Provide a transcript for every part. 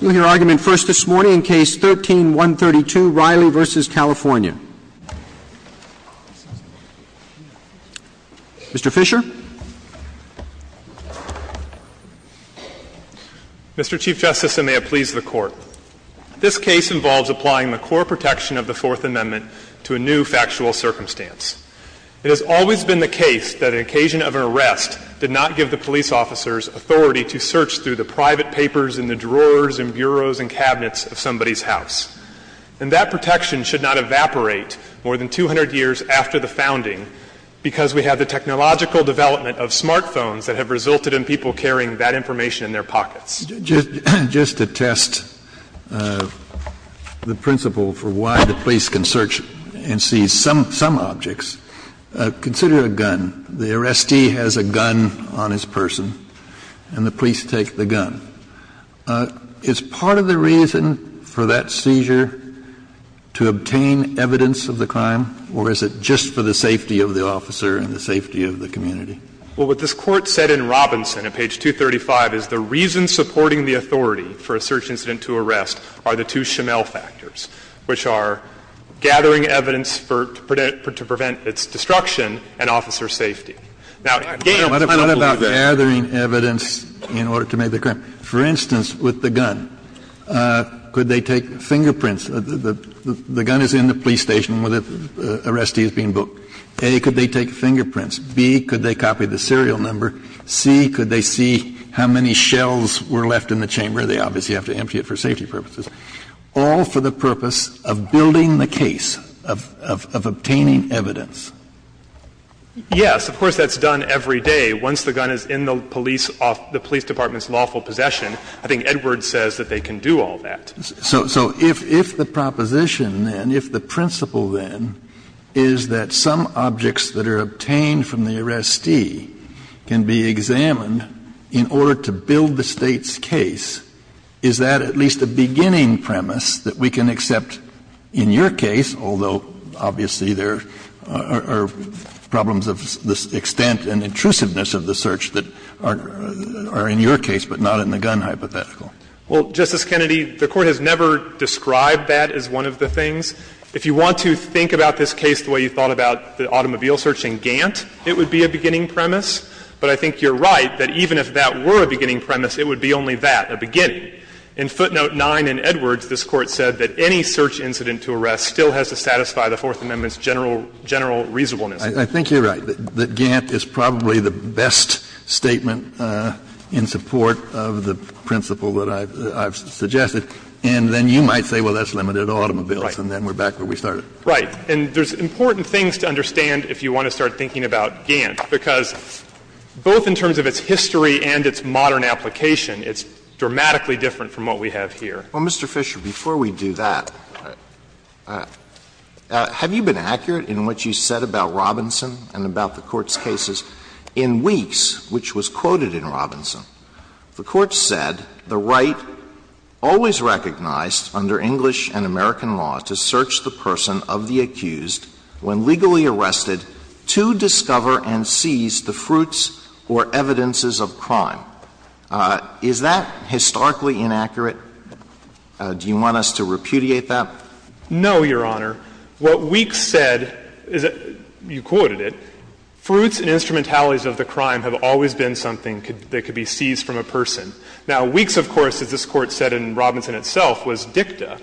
We'll hear argument first this morning in Case 13-132, Riley v. California. Mr. Fisher. Mr. Chief Justice, and may it please the Court. This case involves applying the core protection of the Fourth Amendment to a new factual circumstance. It has always been the case that an occasion of arrest did not give the police officers authority to search through the private papers in the drawers and bureaus and cabinets of somebody's house. And that protection should not evaporate more than 200 years after the founding because we have the technological development of smartphones that have resulted in people carrying that information in their pockets. Just to test the principle for why the police can search and seize some objects, consider a gun. The arrestee has a gun on his person, and the police take the gun. Is part of the reason for that seizure to obtain evidence of the crime, or is it just for the safety of the officer and the safety of the community? Well, what this Court said in Robinson, at page 235, is the reason supporting the authority for a search incident to arrest are the two Shimmel factors, which are gathering evidence for to prevent its destruction and officer safety. Now, again, I don't believe that. What about gathering evidence in order to make the crime? For instance, with the gun, could they take fingerprints? The gun is in the police station where the arrestee is being booked. A, could they take fingerprints? B, could they copy the serial number? C, could they see how many shells were left in the chamber? They obviously have to empty it for safety purposes. All for the purpose of building the case, of obtaining evidence. Yes. Of course, that's done every day. Once the gun is in the police department's lawful possession, I think Edwards says that they can do all that. So if the proposition, then, if the principle, then, is that some objects that are obtained from the arrestee can be examined in order to build the State's case, is that at least a beginning premise that we can accept in your case, although obviously there are problems of this extent and intrusiveness of the search that are in your case but not in the gun hypothetical? Well, Justice Kennedy, the Court has never described that as one of the things. If you want to think about this case the way you thought about the automobile search in Gantt, it would be a beginning premise. But I think you're right that even if that were a beginning premise, it would be only that, a beginning. In footnote 9 in Edwards, this Court said that any search incident to arrest still has to satisfy the Fourth Amendment's general reasonableness. I think you're right that Gantt is probably the best statement in support of the principle that I've suggested. And then you might say, well, that's limited to automobiles. And then we're back to where we started. Right. And there's important things to understand if you want to start thinking about Gantt, because both in terms of its history and its modern application, it's dramatically different from what we have here. Well, Mr. Fisher, before we do that, have you been accurate in what you said about Robinson and about the Court's cases in Weeks, which was quoted in Robinson? The Court said the right always recognized under English and American law to search the person of the accused when legally arrested to discover and seize the fruits or evidences of crime. Is that historically inaccurate? Do you want us to repudiate that? No, Your Honor. What Weeks said is that, you quoted it, fruits and instrumentalities of the crime have always been something that could be seized from a person. Now, Weeks, of course, as this Court said in Robinson itself, was dicta.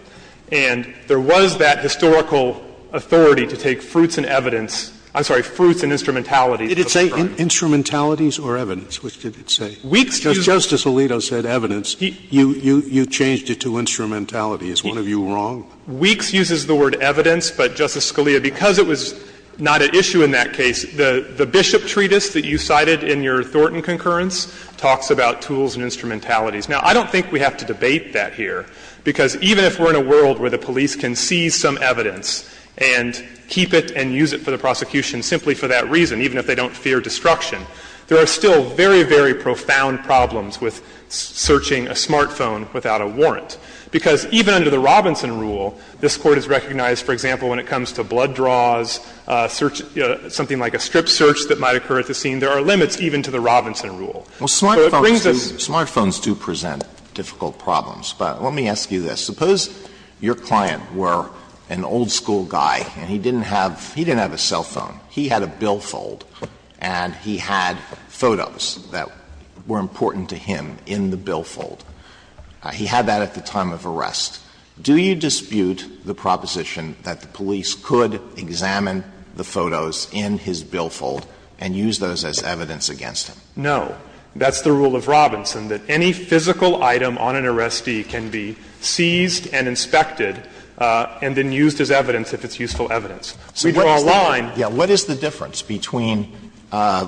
And there was that historical authority to take fruits and evidence – I'm sorry, fruits and instrumentalities of the crime. Did it say instrumentalities or evidence? Which did it say? Weeks used – Justice Alito said evidence. You changed it to instrumentality. Is one of you wrong? Weeks uses the word evidence, but, Justice Scalia, because it was not at issue in that treatise that you cited in your Thornton concurrence, talks about tools and instrumentalities. Now, I don't think we have to debate that here, because even if we're in a world where the police can seize some evidence and keep it and use it for the prosecution simply for that reason, even if they don't fear destruction, there are still very, very profound problems with searching a smartphone without a warrant. Because even under the Robinson rule, this Court has recognized, for example, when it comes to blood draws, search – something like a strip search that might occur at the scene, there are limits even to the Robinson rule. So it brings us to this point. Alito, Smartphones do present difficult problems, but let me ask you this. Suppose your client were an old-school guy and he didn't have – he didn't have a cell phone. He had a billfold and he had photos that were important to him in the billfold. He had that at the time of arrest. Do you dispute the proposition that the police could examine the photos in his billfold and use those as evidence against him? No. That's the rule of Robinson, that any physical item on an arrestee can be seized and inspected and then used as evidence if it's useful evidence. Alito, Smartphones do present difficult problems, but let me ask you this. What is the difference between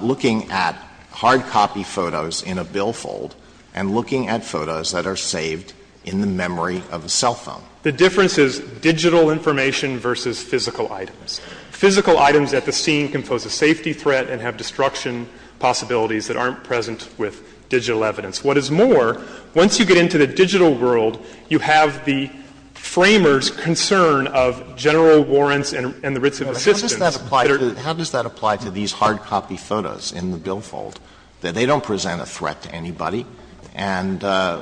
looking at hard copy photos in a billfold and looking at photos that are saved in the memory of a cell phone? The difference is digital information versus physical items. Physical items at the scene can pose a safety threat and have destruction possibilities that aren't present with digital evidence. What is more, once you get into the digital world, you have the Framers' concern of general warrants and the writs of assistance that are— How does that apply to these hard copy photos in the billfold? They don't present a threat to anybody. And I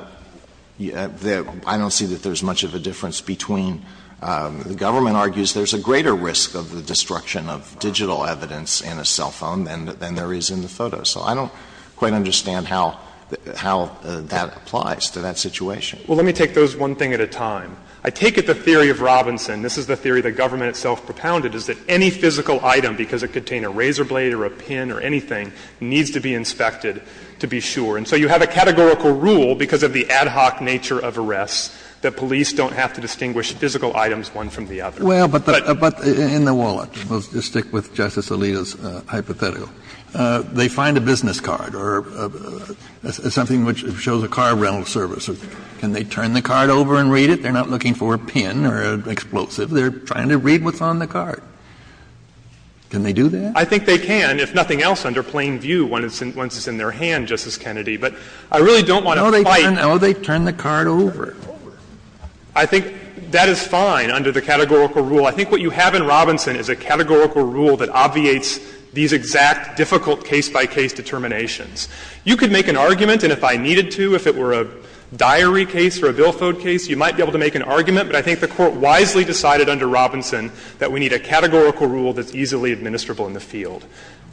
don't see that there's much of a difference between — the government argues there's a greater risk of the destruction of digital evidence in a cell phone than there is in the photos. So I don't quite understand how that applies to that situation. Well, let me take those one thing at a time. I take it the theory of Robinson, this is the theory the government itself propounded, is that any physical item, because it could contain a razor blade or a pin or anything, needs to be inspected to be sure. And so you have a categorical rule, because of the ad hoc nature of arrests, that police don't have to distinguish physical items one from the other. But— But in the wallet, we'll just stick with Justice Alito's hypothetical. They find a business card or something which shows a car rental service. Can they turn the card over and read it? They're not looking for a pin or an explosive. They're trying to read what's on the card. Can they do that? I think they can, if nothing else, under plain view. Once it's in their hand, Justice Kennedy. But I really don't want to fight— No, they turn the card over. I think that is fine under the categorical rule. I think what you have in Robinson is a categorical rule that obviates these exact difficult case-by-case determinations. You could make an argument, and if I needed to, if it were a diary case or a billfold case, you might be able to make an argument. But I think the Court wisely decided under Robinson that we need a categorical rule that's easily administrable in the field.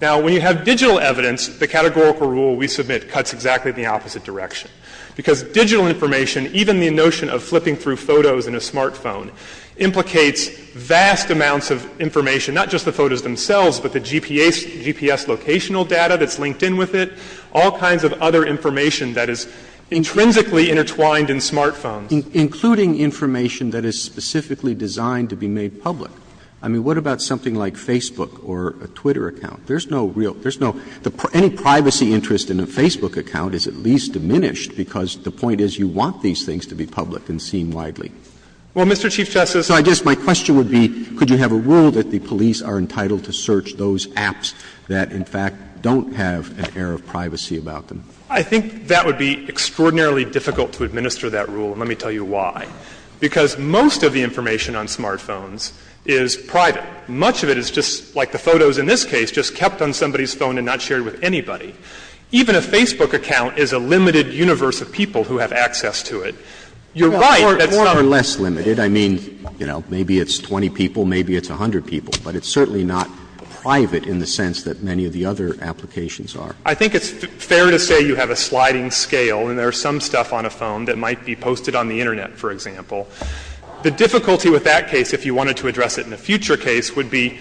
Now, when you have digital evidence, the categorical rule we submit cuts exactly in the opposite direction, because digital information, even the notion of flipping through photos in a smartphone, implicates vast amounts of information, not just the photos themselves, but the GPS, GPS locational data that's linked in with it, all kinds of other information that is intrinsically intertwined in smartphones. Including information that is specifically designed to be made public. I mean, what about something like Facebook or a Twitter account? There's no real, there's no, any privacy interest in a Facebook account is at least diminished, because the point is you want these things to be public and seen widely. Well, Mr. Chief Justice, I just, my question would be, could you have a rule that the police are entitled to search those apps that, in fact, don't have an air of privacy about them? I think that would be extraordinarily difficult to administer that rule, and let me tell you why. Because most of the information on smartphones is private. Much of it is just like the photos in this case, just kept on somebody's phone and not shared with anybody. Even a Facebook account is a limited universe of people who have access to it. You're right, that's not a limit. Or less limited. I mean, you know, maybe it's 20 people, maybe it's 100 people, but it's certainly not private in the sense that many of the other applications are. I think it's fair to say you have a sliding scale, and there's some stuff on a phone that might be posted on the Internet, for example. The difficulty with that case, if you wanted to address it in a future case, would be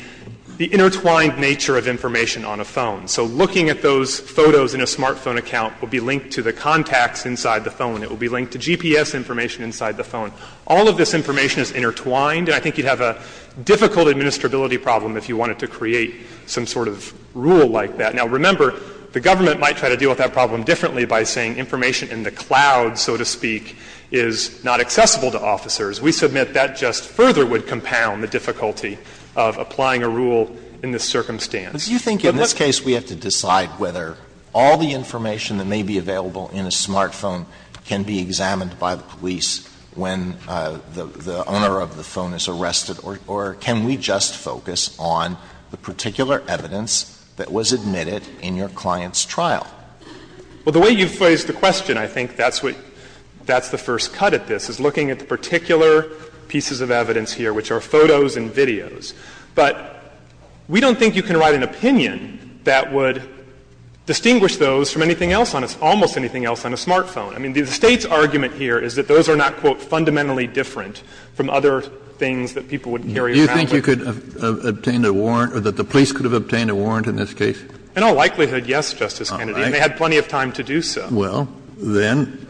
the intertwined nature of information on a phone. So looking at those photos in a smartphone account will be linked to the contacts inside the phone. It will be linked to GPS information inside the phone. All of this information is intertwined, and I think you'd have a difficult administrability problem if you wanted to create some sort of rule like that. Now, remember, the government might try to deal with that problem differently by saying information in the cloud, so to speak, is not accessible to officers. We submit that just further would compound the difficulty of applying a rule in this But let's go to the next question. Alitoso, do you think in this case we have to decide whether all the information that may be available in a smartphone can be examined by the police when the owner of the phone is arrested, or can we just focus on the particular evidence that was admitted in your client's trial? Well, the way you've phrased the question, I think that's what the first cut at this is, looking at the particular pieces of evidence here, which are photos and videos. But we don't think you can write an opinion that would distinguish those from anything else on a almost anything else on a smartphone. I mean, the State's argument here is that those are not, quote, fundamentally different from other things that people would carry around with them. Do you think you could have obtained a warrant or that the police could have obtained a warrant in this case? In all likelihood, yes, Justice Kennedy. And they had plenty of time to do so. Well, then,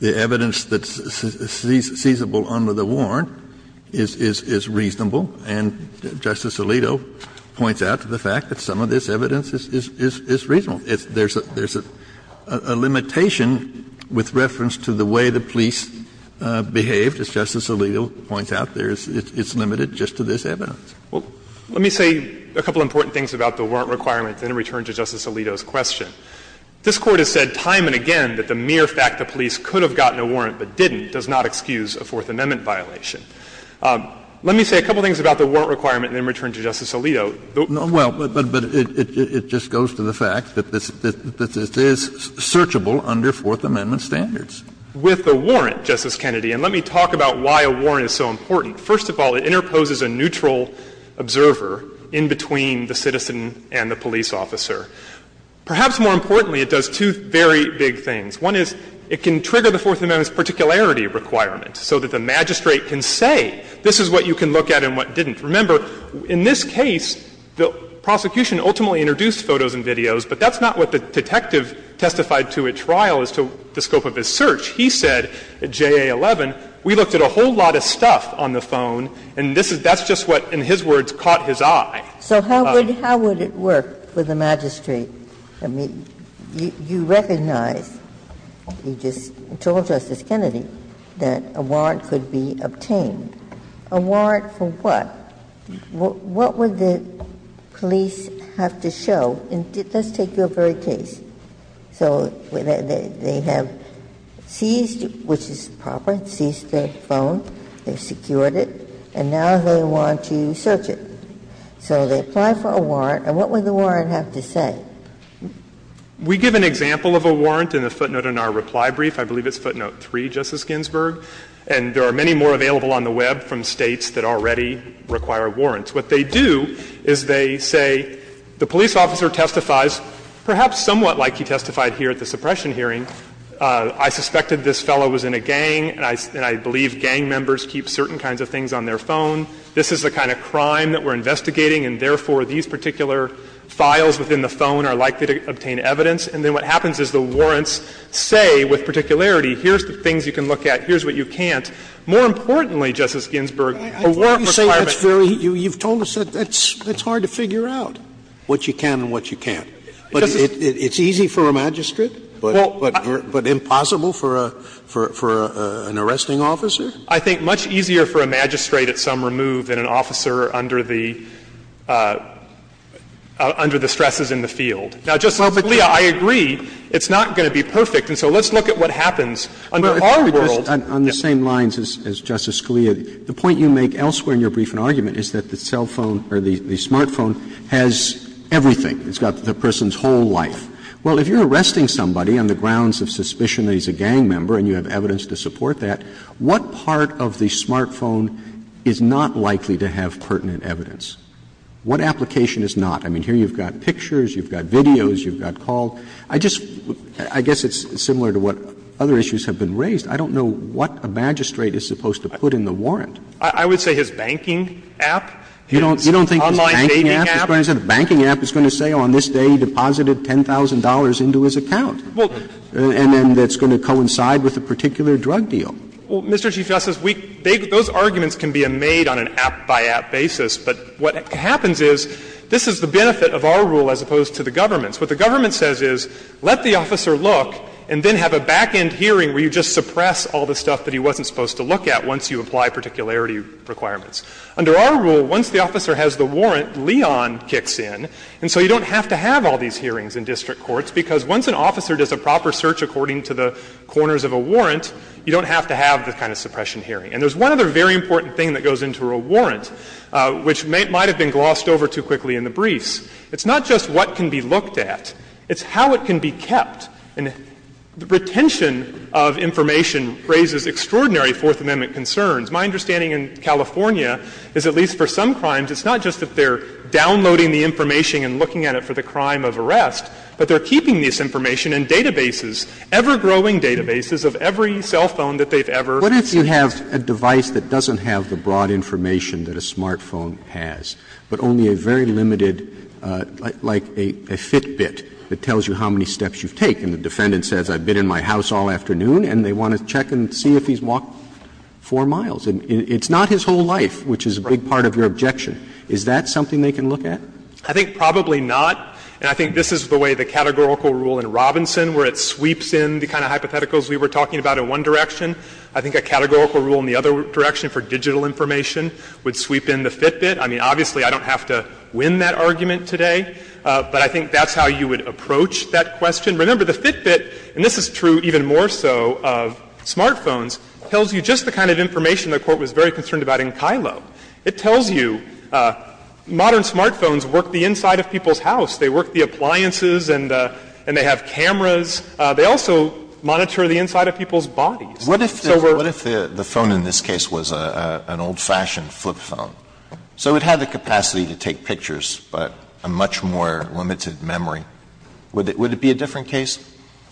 the evidence that's seizable under the warrant is reasonable. And Justice Alito points out to the fact that some of this evidence is reasonable. There's a limitation with reference to the way the police behaved. As Justice Alito points out, it's limited just to this evidence. Well, let me say a couple of important things about the warrant requirement, then return to Justice Alito's question. This Court has said time and again that the mere fact the police could have gotten a warrant but didn't does not excuse a Fourth Amendment violation. Let me say a couple of things about the warrant requirement and then return to Justice Alito. Well, but it just goes to the fact that this is searchable under Fourth Amendment standards. With the warrant, Justice Kennedy, and let me talk about why a warrant is so important. First of all, it interposes a neutral observer in between the citizen and the police officer. Perhaps more importantly, it does two very big things. One is it can trigger the Fourth Amendment's particularity requirement so that the magistrate can say this is what you can look at and what didn't. Remember, in this case, the prosecution ultimately introduced photos and videos, but that's not what the detective testified to at trial as to the scope of his search. He said at JA11, we looked at a whole lot of stuff on the phone, and this is — that's just what, in his words, caught his eye. So how would it work for the magistrate? I mean, you recognize, you just told Justice Kennedy, that a warrant could be obtained. A warrant for what? What would the police have to show? And let's take your very case. So they have seized, which is proper, seized the phone, they've secured it, and now they want to search it. So they apply for a warrant, and what would the warrant have to say? We give an example of a warrant in the footnote in our reply brief. I believe it's footnote 3, Justice Ginsburg. And there are many more available on the Web from States that already require warrants. What they do is they say the police officer testifies, perhaps somewhat like he testified here at the suppression hearing. I suspected this fellow was in a gang, and I believe gang members keep certain kinds of things on their phone. This is the kind of crime that we're investigating, and therefore these particular files within the phone are likely to obtain evidence. And then what happens is the warrants say, with particularity, here's the things you can look at, here's what you can't. More importantly, Justice Ginsburg, a warrant requirement. Sotomayor, you've told us that's hard to figure out, what you can and what you can't. But it's easy for a magistrate, but impossible for an arresting officer? I think much easier for a magistrate at some remove than an officer under the stresses in the field. Now, Justice Scalia, I agree, it's not going to be perfect. And so let's look at what happens under our world. Roberts. On the same lines as Justice Scalia, the point you make elsewhere in your briefing argument is that the cell phone or the smart phone has everything. It's got the person's whole life. Well, if you're arresting somebody on the grounds of suspicion that he's a gang member and you have evidence to support that, what part of the smart phone is not likely to have pertinent evidence? What application is not? I mean, here you've got pictures, you've got videos, you've got call. I just — I guess it's similar to what other issues have been raised. I don't know what a magistrate is supposed to put in the warrant. I would say his banking app, his online dating app. You don't think his banking app is going to say, on this day he deposited $10,000 into his account? And then that's going to coincide with a particular drug deal. Well, Mr. Chief Justice, we — those arguments can be made on an app-by-app basis. But what happens is, this is the benefit of our rule as opposed to the government's. What the government says is, let the officer look and then have a back-end hearing where you just suppress all the stuff that he wasn't supposed to look at once you apply particularity requirements. Under our rule, once the officer has the warrant, Leon kicks in, and so you don't have to have all these hearings in district courts, because once an officer does a proper search according to the corners of a warrant, you don't have to have the kind of suppression hearing. And there's one other very important thing that goes into a warrant, which might have been glossed over too quickly in the briefs. It's not just what can be looked at. It's how it can be kept. And retention of information raises extraordinary Fourth Amendment concerns. My understanding in California is, at least for some crimes, it's not just that they're doing it for the crime of arrest, but they're keeping this information in databases, ever-growing databases of every cell phone that they've ever used. Roberts, what if you have a device that doesn't have the broad information that a smartphone has, but only a very limited, like a Fitbit that tells you how many steps you've taken, and the defendant says, I've been in my house all afternoon, and they want to check and see if he's walked 4 miles? It's not his whole life, which is a big part of your objection. Is that something they can look at? I think probably not. And I think this is the way the categorical rule in Robinson, where it sweeps in the kind of hypotheticals we were talking about in one direction. I think a categorical rule in the other direction for digital information would sweep in the Fitbit. I mean, obviously, I don't have to win that argument today, but I think that's how you would approach that question. Remember, the Fitbit, and this is true even more so of smartphones, tells you just the kind of information the Court was very concerned about in Kylo. It tells you modern smartphones work the inside of people's house. They work the appliances and they have cameras. They also monitor the inside of people's bodies. So we're going to have to look at that. Alitoso What if the phone in this case was an old-fashioned flip phone? So it had the capacity to take pictures, but a much more limited memory. Would it be a different case?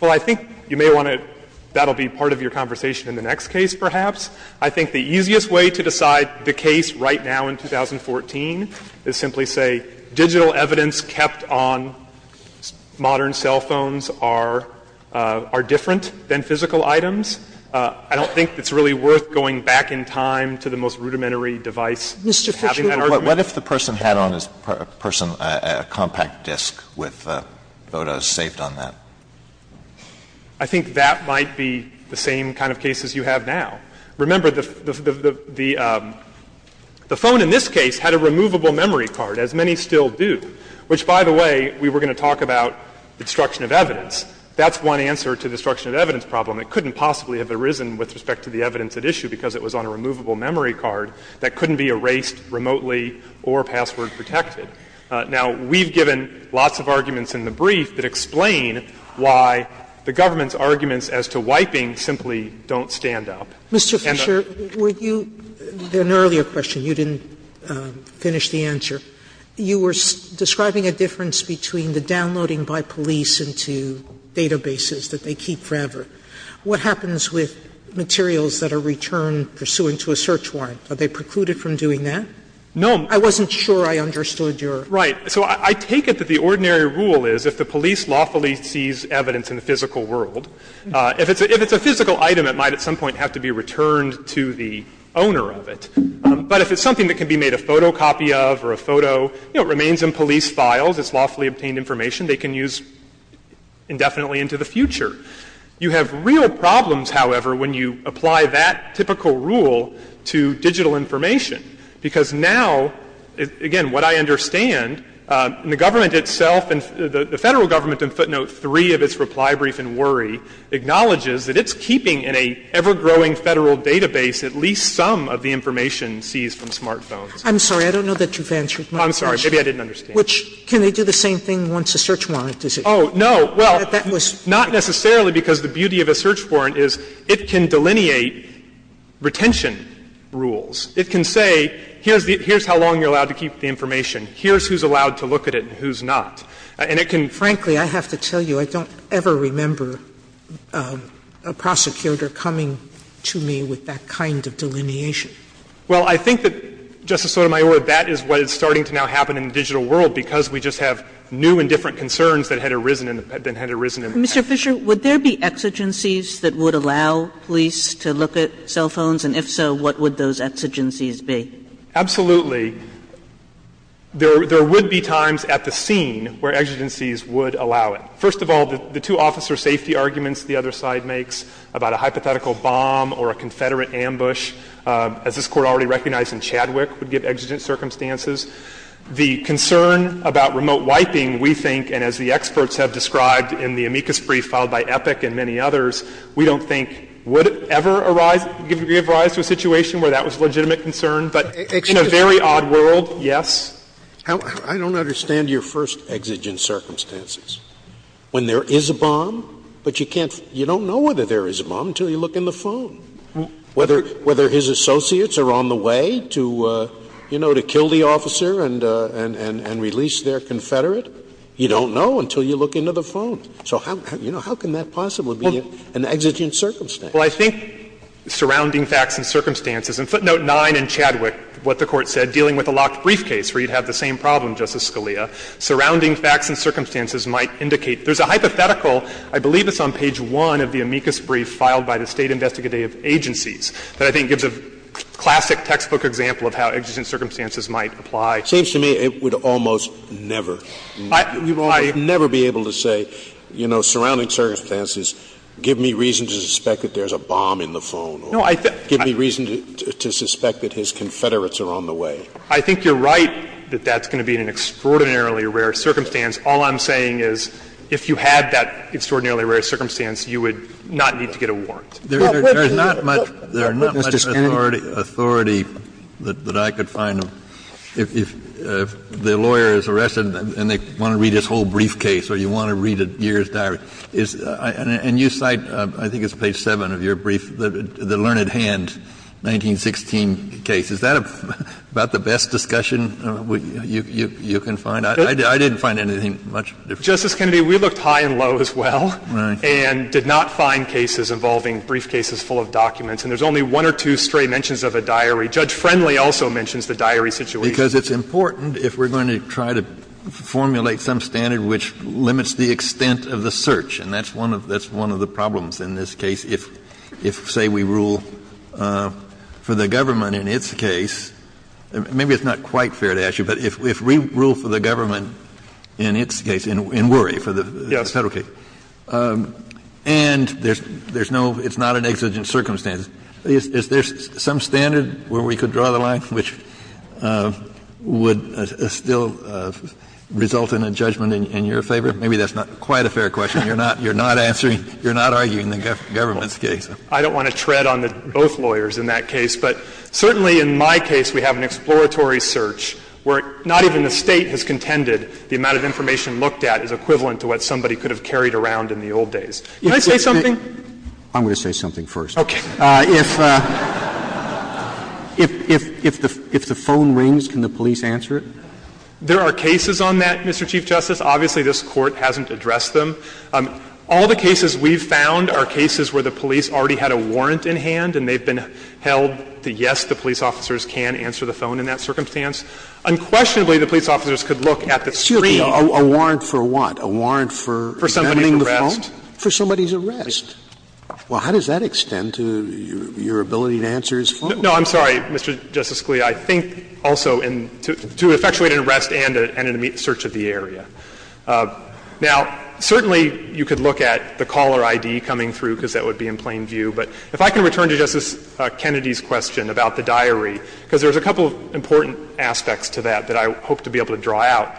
Well, I think you may want to – that will be part of your conversation in the next case, perhaps. I think the easiest way to decide the case right now in 2014 is simply say digital evidence kept on modern cell phones are different than physical items. I don't think it's really worth going back in time to the most rudimentary Sotomayor Mr. Fisher, what if the person had on his person a compact disc with photos saved on that? Fisher I think that might be the same kind of case as you have now. Remember, the phone in this case had a removable memory card, as many still do, which by the way, we were going to talk about the destruction of evidence. That's one answer to the destruction of evidence problem. It couldn't possibly have arisen with respect to the evidence at issue because it was on a removable memory card that couldn't be erased remotely or password protected. Now, we've given lots of arguments in the brief that explain why the government's arguments as to wiping simply don't stand up. Sotomayor Mr. Fisher, were you an earlier question. You didn't finish the answer. You were describing a difference between the downloading by police into databases that they keep forever. What happens with materials that are returned pursuant to a search warrant? Are they precluded from doing that? Fisher No. Sotomayor I wasn't sure I understood your. Fisher Right. So I take it that the ordinary rule is if the police lawfully sees evidence in a physical world, if it's a physical item, it might at some point have to be returned to the owner of it. But if it's something that can be made a photocopy of or a photo, you know, it remains in police files. It's lawfully obtained information they can use indefinitely into the future. You have real problems, however, when you apply that typical rule to digital information because now, again, what I understand, the government itself and the Federal government in footnote 3 of its reply brief in Worry acknowledges that it's keeping in a ever-growing Federal database at least some of the information seized from smartphones. Sotomayor I'm sorry. I don't know that you've answered my question. Fisher I'm sorry. Maybe I didn't understand. Sotomayor Which can they do the same thing once a search warrant is issued? Fisher Oh, no. Well, not necessarily because the beauty of a search warrant is it can delineate retention rules. It can say here's how long you're allowed to keep the information, here's who's allowed to look at it and who's not. And it can. Sotomayor Frankly, I have to tell you, I don't ever remember a prosecutor coming to me with that kind of delineation. Fisher Well, I think that, Justice Sotomayor, that is what is starting to now happen in the digital world because we just have new and different concerns that had arisen in the past. Kagan Mr. Fisher, would there be exigencies that would allow police to look at cell phones? And if so, what would those exigencies be? Fisher Absolutely. There would be times at the scene where exigencies would allow it. First of all, the two officer safety arguments the other side makes about a hypothetical bomb or a Confederate ambush, as this Court already recognized in Chadwick, would give exigent circumstances. The concern about remote wiping, we think, and as the experts have described in the amicus brief filed by Epic and many others, we don't think would ever give rise to a exigent circumstance. In a very odd world, yes. Scalia I don't understand your first exigent circumstances, when there is a bomb, but you can't, you don't know whether there is a bomb until you look in the phone. Whether his associates are on the way to, you know, to kill the officer and release their Confederate, you don't know until you look into the phone. So how can that possibly be an exigent circumstance? Fisher Well, I think surrounding facts and circumstances, and footnote 9 in Chadwick, what the Court said, dealing with a locked briefcase, where you'd have the same problem, Justice Scalia. Surrounding facts and circumstances might indicate. There's a hypothetical, I believe it's on page 1 of the amicus brief filed by the State investigative agencies, that I think gives a classic textbook example of how exigent circumstances might apply. Scalia It seems to me it would almost never, never be able to say, you know, surrounding to suspect that there's a bomb in the phone or give me reason to suspect that his Confederates are on the way. Fisher I think you're right that that's going to be an extraordinarily rare circumstance. All I'm saying is if you had that extraordinarily rare circumstance, you would not need to get a warrant. Kennedy There's not much authority that I could find. If the lawyer is arrested and they want to read his whole briefcase or you want to I think it's page 7 of your brief, the learned hand, 1916 case. Is that about the best discussion you can find? I didn't find anything much different. Fisher Justice Kennedy, we looked high and low as well and did not find cases involving briefcases full of documents. And there's only one or two stray mentions of a diary. Judge Friendly also mentions the diary situation. Kennedy Because it's important if we're going to try to formulate some standard which limits the extent of the search. And that's one of the problems in this case. If, say, we rule for the government in its case, maybe it's not quite fair to ask you, but if we rule for the government in its case, in Worry, for the Federal case, and there's no, it's not an exigent circumstance, is there some standard where we could draw the line which would still result in a judgment in your favor? Maybe that's not quite a fair question. You're not answering, you're not arguing the government's case. Fisher I don't want to tread on both lawyers in that case. But certainly in my case, we have an exploratory search where not even the State has contended the amount of information looked at is equivalent to what somebody could have carried around in the old days. Can I say something? Roberts I'm going to say something first. Fisher Okay. Roberts If the phone rings, can the police answer it? Fisher There are cases on that, Mr. Chief Justice. Obviously, this Court hasn't addressed them. All the cases we've found are cases where the police already had a warrant in hand and they've been held to yes, the police officers can answer the phone in that circumstance. Unquestionably, the police officers could look at the screen. Scalia A warrant for what? A warrant for examining the phone? Fisher For somebody's arrest. Scalia For somebody's arrest. Well, how does that extend to your ability to answer his phone? Fisher No, I'm sorry, Mr. Justice Scalia. I think also in, to effectuate an arrest and an immediate search of the area. Now, certainly you could look at the caller ID coming through because that would be in plain view, but if I can return to Justice Kennedy's question about the diary, because there's a couple of important aspects to that that I hope to be able to draw out.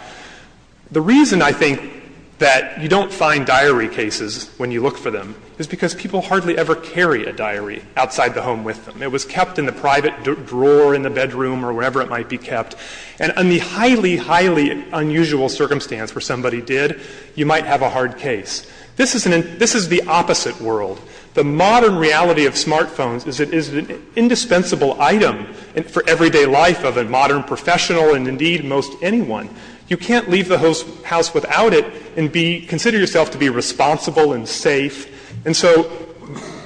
The reason I think that you don't find diary cases when you look for them is because people hardly ever carry a diary outside the home with them. It was kept in the private drawer in the bedroom or wherever it might be kept. And in the highly, highly unusual circumstance where somebody did, you might have a hard case. This is an, this is the opposite world. The modern reality of smartphones is that it is an indispensable item for everyday life of a modern professional and indeed most anyone. You can't leave the house without it and be, consider yourself to be responsible and safe. And so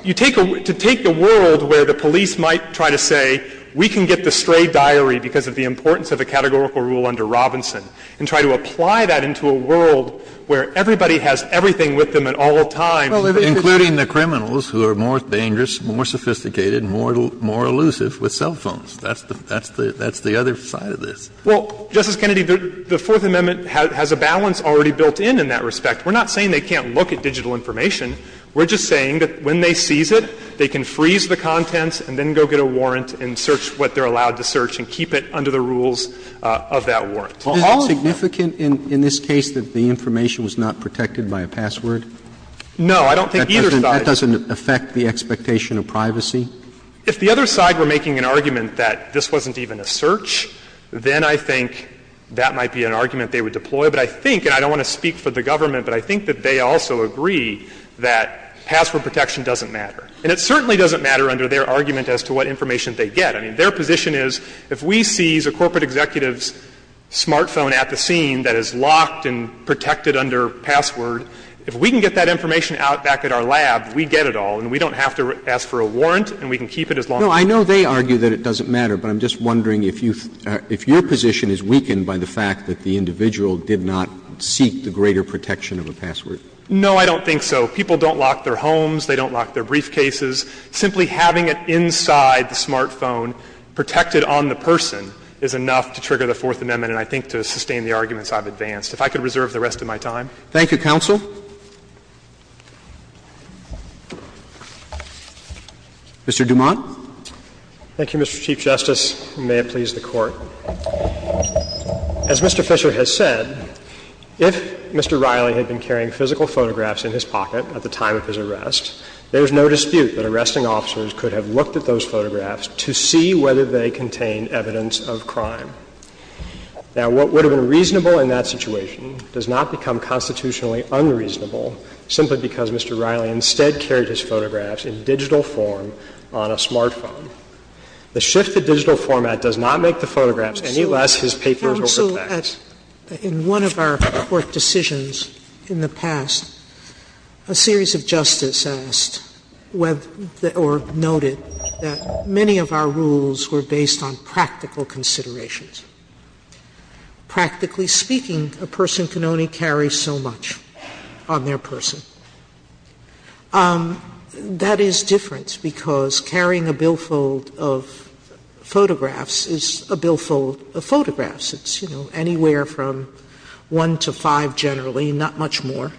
you take a, to take the world where the police might try to say we can get the stray diary because of the importance of a categorical rule under Robinson and try to apply that into a world where everybody has everything with them at all times. Kennedy, the Fourth Amendment has a balance already built in, in that respect. We're not saying they can't look at digital information. We're just saying that when they seize it, they can freeze the contents and then they're allowed to search and keep it under the rules of that warrant. All of that. Roberts. Is it significant in this case that the information was not protected by a password? No. I don't think either side. That doesn't affect the expectation of privacy? If the other side were making an argument that this wasn't even a search, then I think that might be an argument they would deploy. But I think, and I don't want to speak for the government, but I think that they also agree that password protection doesn't matter. And it certainly doesn't matter under their argument as to what information they get. I mean, their position is if we seize a corporate executive's smartphone at the scene that is locked and protected under password, if we can get that information out back at our lab, we get it all. And we don't have to ask for a warrant, and we can keep it as long as we want. No. I know they argue that it doesn't matter, but I'm just wondering if you — if your position is weakened by the fact that the individual did not seek the greater protection of a password. No, I don't think so. People don't lock their homes. They don't lock their briefcases. Simply having it inside the smartphone, protected on the person, is enough to trigger the Fourth Amendment and I think to sustain the arguments I've advanced. If I could reserve the rest of my time. Thank you, counsel. Mr. Dumont. Thank you, Mr. Chief Justice, and may it please the Court. As Mr. Fisher has said, if Mr. Riley had been carrying physical photographs in his pocket at the time of his arrest, there is no dispute that arresting officers could have looked at those photographs to see whether they contained evidence of crime. Now, what would have been reasonable in that situation does not become constitutionally unreasonable simply because Mr. Riley instead carried his photographs in digital form on a smartphone. The shift to digital format does not make the photographs any less his papers or her fax. So in one of our court decisions in the past, a series of justices asked whether or noted that many of our rules were based on practical considerations. Practically speaking, a person can only carry so much on their person. That is different because carrying a billfold of photographs is a billfold of photographs. It's, you know, anywhere from one to five generally, not much more.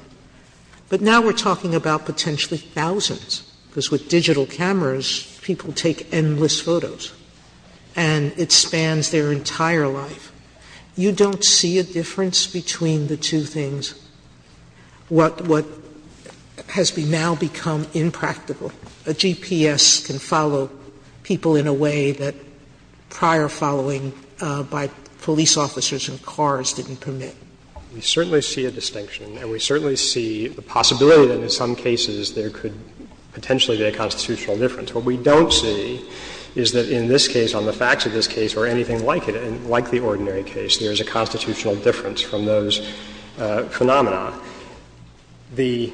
But now we're talking about potentially thousands because with digital cameras, people take endless photos and it spans their entire life. You don't see a difference between the two things. What has now become impractical, a GPS can follow people in a way that prior following by police officers in cars didn't permit? We certainly see a distinction and we certainly see the possibility that in some cases there could potentially be a constitutional difference. What we don't see is that in this case, on the facts of this case or anything like it, like the ordinary case, there is a constitutional difference from those phenomena. The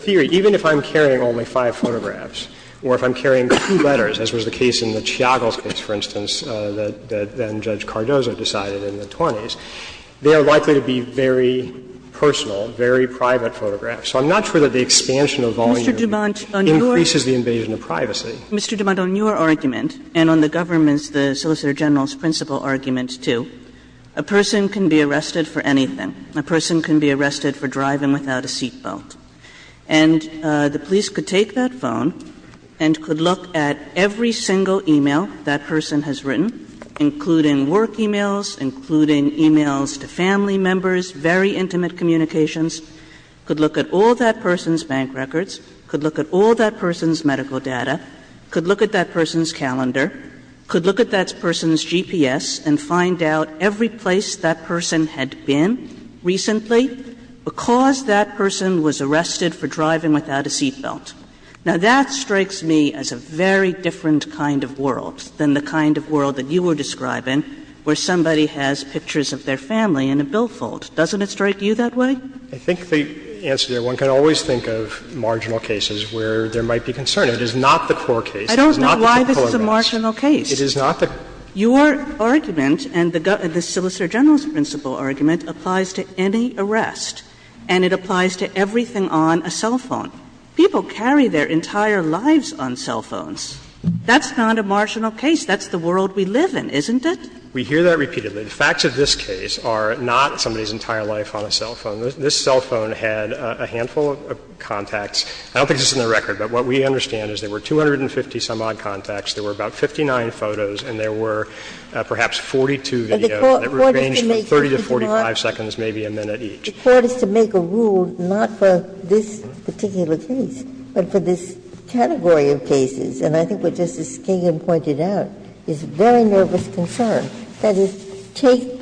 theory, even if I'm carrying only five photographs or if I'm carrying two letters, as was the case in the Chiagos case, for instance, that then-Judge Cardozo decided in the 20s, they are likely to be very personal, very private photographs. So I'm not sure that the expansion of volume increases the invasion of privacy. Kagan. Mr. DuMont, on your argument and on the government's, the Solicitor General's principle argument, too, a person can be arrested for anything. A person can be arrested for driving without a seat belt. And the police could take that phone and could look at every single e-mail that person has written, including work e-mails, including e-mails to family members, very intimate communications, could look at all that person's bank records, could look at all that person's medical data, could look at that person's calendar, could look at that person's phone number, could look at the number of times that person had been recently because that person was arrested for driving without a seat belt. Now, that strikes me as a very different kind of world than the kind of world that you were describing where somebody has pictures of their family in a billfold. Doesn't it strike you that way? I think the answer there, one can always think of marginal cases where there might be concern. It is not the core case. I don't know why this is a marginal case. It is not the core case. Your argument and the solicitor general's principle argument applies to any arrest, and it applies to everything on a cell phone. People carry their entire lives on cell phones. That's not a marginal case. That's the world we live in, isn't it? We hear that repeatedly. The facts of this case are not somebody's entire life on a cell phone. This cell phone had a handful of contacts. I don't think this is on the record, but what we understand is there were 250-some-odd contacts, there were about 59 photos, and there were perhaps 42 videos that were arranged at 30 to 45 seconds, maybe a minute each. Ginsburg. The Court is to make a rule not for this particular case, but for this category of cases. And I think what Justice Skingham pointed out is very nervous concern, that is, take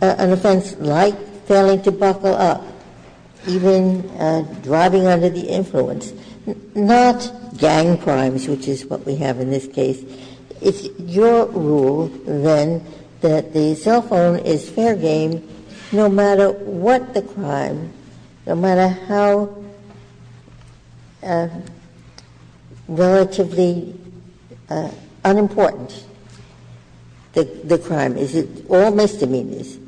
an offense like failing to buckle up, even driving under the influence, not gang crimes, which is what we have in this case. It's your rule, then, that the cell phone is fair game no matter what the crime, no matter how relatively unimportant the crime. It's all misdemeanors,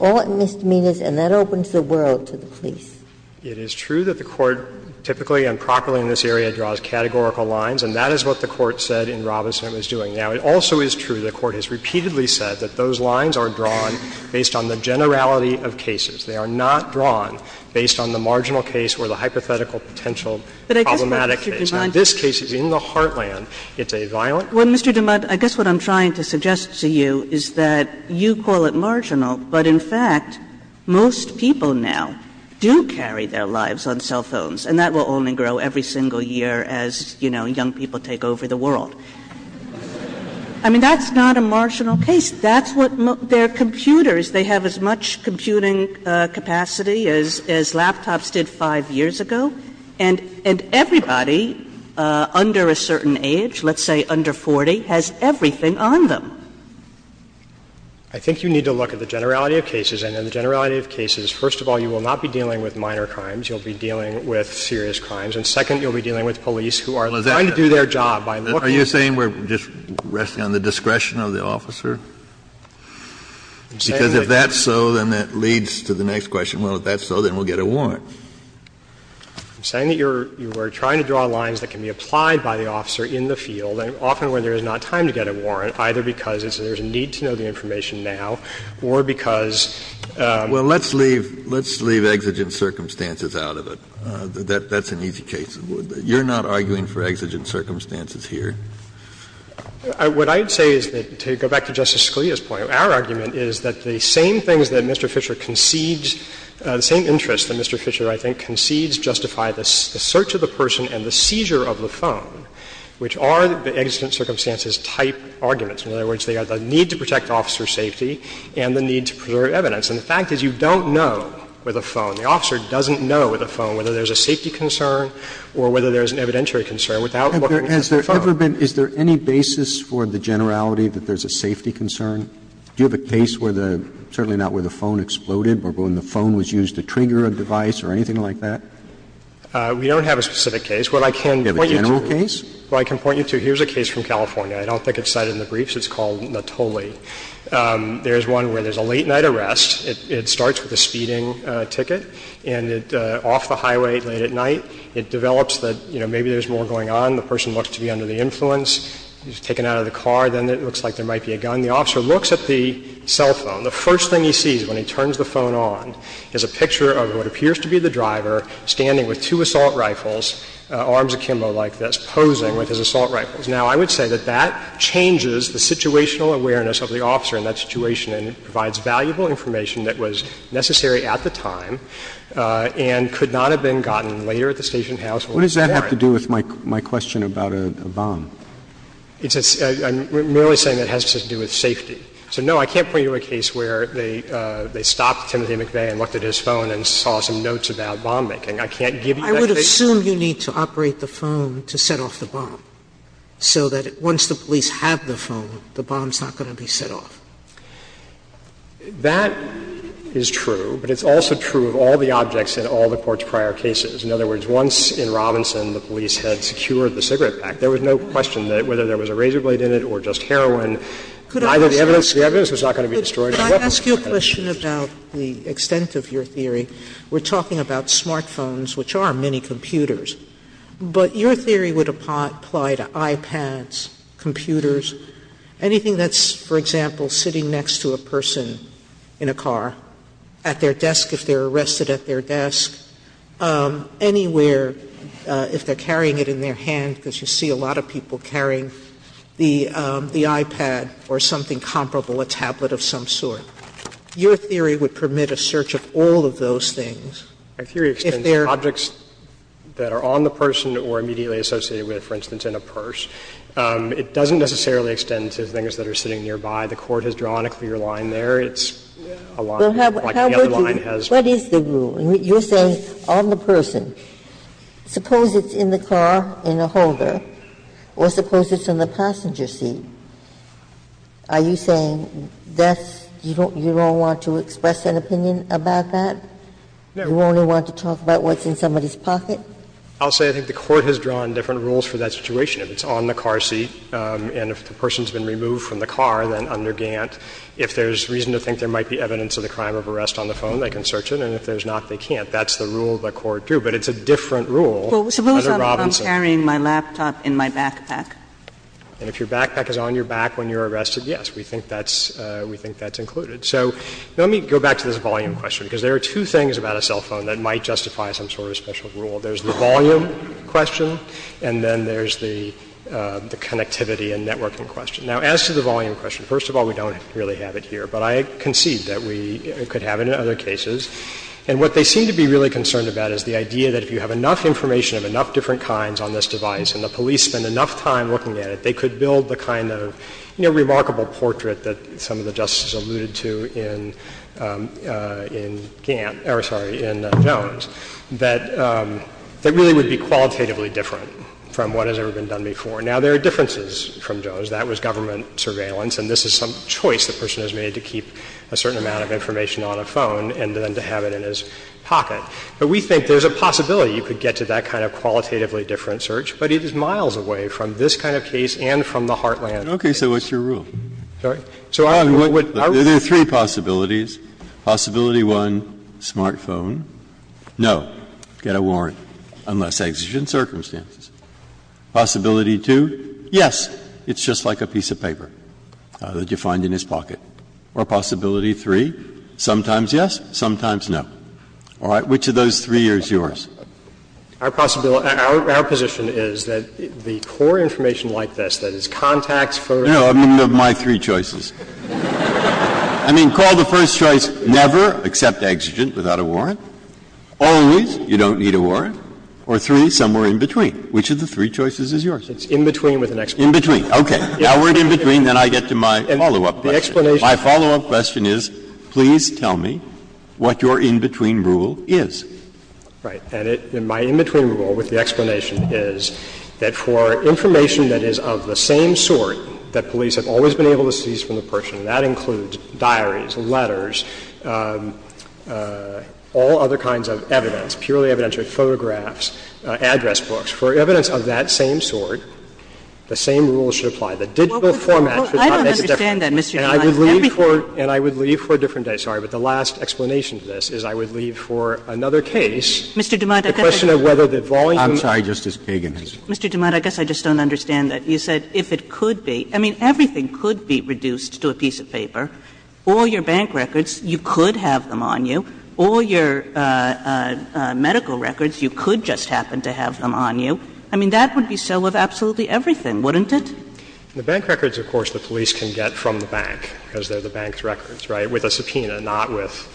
all misdemeanors, and that opens the world to the police. It is true that the Court, typically and properly in this area, draws categorical lines, and that is what the Court said in Robinson it was doing. Now, it also is true the Court has repeatedly said that those lines are drawn based on the generality of cases. They are not drawn based on the marginal case or the hypothetical potential problematic case. Now, this case is in the heartland. It's a violent case. Well, Mr. Dumont, I guess what I'm trying to suggest to you is that you call it marginal, but in fact, most people now do carry their lives on cell phones, and that will only grow every single year as, you know, young people take over the world. I mean, that's not a marginal case. That's what their computers, they have as much computing capacity as laptops did 5 years ago, and everybody under a certain age, let's say under 40, has everything on them. I think you need to look at the generality of cases, and in the generality of cases, first of all, you will not be dealing with minor crimes. You'll be dealing with serious crimes. And second, you'll be dealing with police who are trying to do their job by looking at the computer. Kennedy, are you saying we're just resting on the discretion of the officer? Because if that's so, then that leads to the next question, well, if that's so, then we'll get a warrant. I'm saying that you're trying to draw lines that can be applied by the officer in the field, and often when there is not time to get a warrant, either because there's a need to know the information now or because of the need to get a warrant. Kennedy, let's leave exigent circumstances out of it. That's an easy case. You're not arguing for exigent circumstances here. What I'd say is that, to go back to Justice Scalia's point, our argument is that the same things that Mr. Fisher concedes, the same interests that Mr. Fisher, I think, concedes justify the search of the person and the seizure of the phone, which are the exigent circumstances-type arguments. In other words, they are the need to protect officer safety and the need to preserve evidence. And the fact is you don't know with a phone, the officer doesn't know with a phone whether there's a safety concern or whether there's an evidentiary concern without looking at the phone. Roberts, is there any basis for the generality that there's a safety concern? Do you have a case where the – certainly not where the phone exploded, but when the phone was used to trigger a device or anything like that? We don't have a specific case. What I can point you to- Do you have a general case? What I can point you to, here's a case from California. I don't think it's cited in the briefs. It's called Natoli. There's one where there's a late-night arrest. It starts with a speeding ticket and it's off the highway late at night. It develops that, you know, maybe there's more going on. The person looks to be under the influence. He's taken out of the car. Then it looks like there might be a gun. When the officer looks at the cell phone, the first thing he sees when he turns the phone on is a picture of what appears to be the driver standing with two assault rifles, arms akimbo like this, posing with his assault rifles. Now, I would say that that changes the situational awareness of the officer in that situation and it provides valuable information that was necessary at the time and could not have been gotten later at the station house or at the ferry. What does that have to do with my question about a bomb? It's a – I'm merely saying it has to do with safety. So, no, I can't point you to a case where they stopped Timothy McVeigh and looked at his phone and saw some notes about bomb making. I can't give you that case. I would assume you need to operate the phone to set off the bomb, so that once the police have the phone, the bomb's not going to be set off. That is true, but it's also true of all the objects in all the Court's prior cases. In other words, once in Robinson the police had secured the cigarette pack, there was no question that whether there was a razor blade in it or just heroin, either the evidence was not going to be destroyed by weapons. Sotomayor, could I ask you a question about the extent of your theory? We're talking about smartphones, which are mini computers, but your theory would apply to iPads, computers, anything that's, for example, sitting next to a person in a car, at their desk if they're arrested at their desk, anywhere, if they're a lot of people carrying the iPad or something comparable, a tablet of some sort. Your theory would permit a search of all of those things if they're at their desk. My theory extends to objects that are on the person or immediately associated with, for instance, in a purse. It doesn't necessarily extend to things that are sitting nearby. The Court has drawn a clear line there. It's a line like the other line has. What is the rule? You're saying on the person. Suppose it's in the car in a holder or suppose it's in the passenger seat. Are you saying that's you don't want to express an opinion about that? You only want to talk about what's in somebody's pocket? I'll say I think the Court has drawn different rules for that situation. If it's on the car seat and if the person's been removed from the car, then under Gant, if there's reason to think there might be evidence of the crime of arrest on the phone, they can search it, and if there's not, they can't. I think that's the rule the Court drew, but it's a different rule under Robinson. Well, suppose I'm carrying my laptop in my backpack? And if your backpack is on your back when you're arrested, yes, we think that's included. So let me go back to this volume question, because there are two things about a cell phone that might justify some sort of special rule. There's the volume question and then there's the connectivity and networking question. Now, as to the volume question, first of all, we don't really have it here, but I concede that we could have it in other cases. And what they seem to be really concerned about is the idea that if you have enough information of enough different kinds on this device and the police spend enough time looking at it, they could build the kind of, you know, remarkable portrait that some of the Justices alluded to in Gant — or, sorry, in Jones, that really would be qualitatively different from what has ever been done before. Now, there are differences from Jones. That was government surveillance, and this is some choice the person has made to keep a certain amount of information on a phone and then to have it in his pocket. But we think there's a possibility you could get to that kind of qualitatively different search, but it is miles away from this kind of case and from the Heartland. Breyer. Okay. So what's your rule? Sorry? So I would — There are three possibilities. Possibility one, smartphone, no, get a warrant, unless exigent circumstances. Possibility two, yes, it's just like a piece of paper that you find in his pocket. Or possibility three, sometimes yes, sometimes no. All right. Which of those three is yours? Our possibility — our position is that the core information like this, that is contacts first. No, I mean of my three choices. I mean, call the first choice never, except exigent, without a warrant. Always, you don't need a warrant. Or three, somewhere in between. Which of the three choices is yours? It's in between with an explanation. In between. Okay. Now we're in between, then I get to my follow-up question. My follow-up question is, please tell me what your in-between rule is. Right. And my in-between rule with the explanation is that for information that is of the same sort that police have always been able to seize from the person, and that includes diaries, letters, all other kinds of evidence, purely evidentiary, photographs, address books, for evidence of that same sort, the same rule should apply. The digital format should not make a difference. And I would leave for a different day, sorry, but the last explanation to this is I would leave for another case, the question of whether the volume of the case. I'm sorry, Justice Kagan. Mr. Dumont, I guess I just don't understand that. You said if it could be. I mean, everything could be reduced to a piece of paper. All your bank records, you could have them on you. All your medical records, you could just happen to have them on you. I mean, that would be so of absolutely everything, wouldn't it? The bank records, of course, the police can get from the bank, because they are the bank's records, right, with a subpoena, not with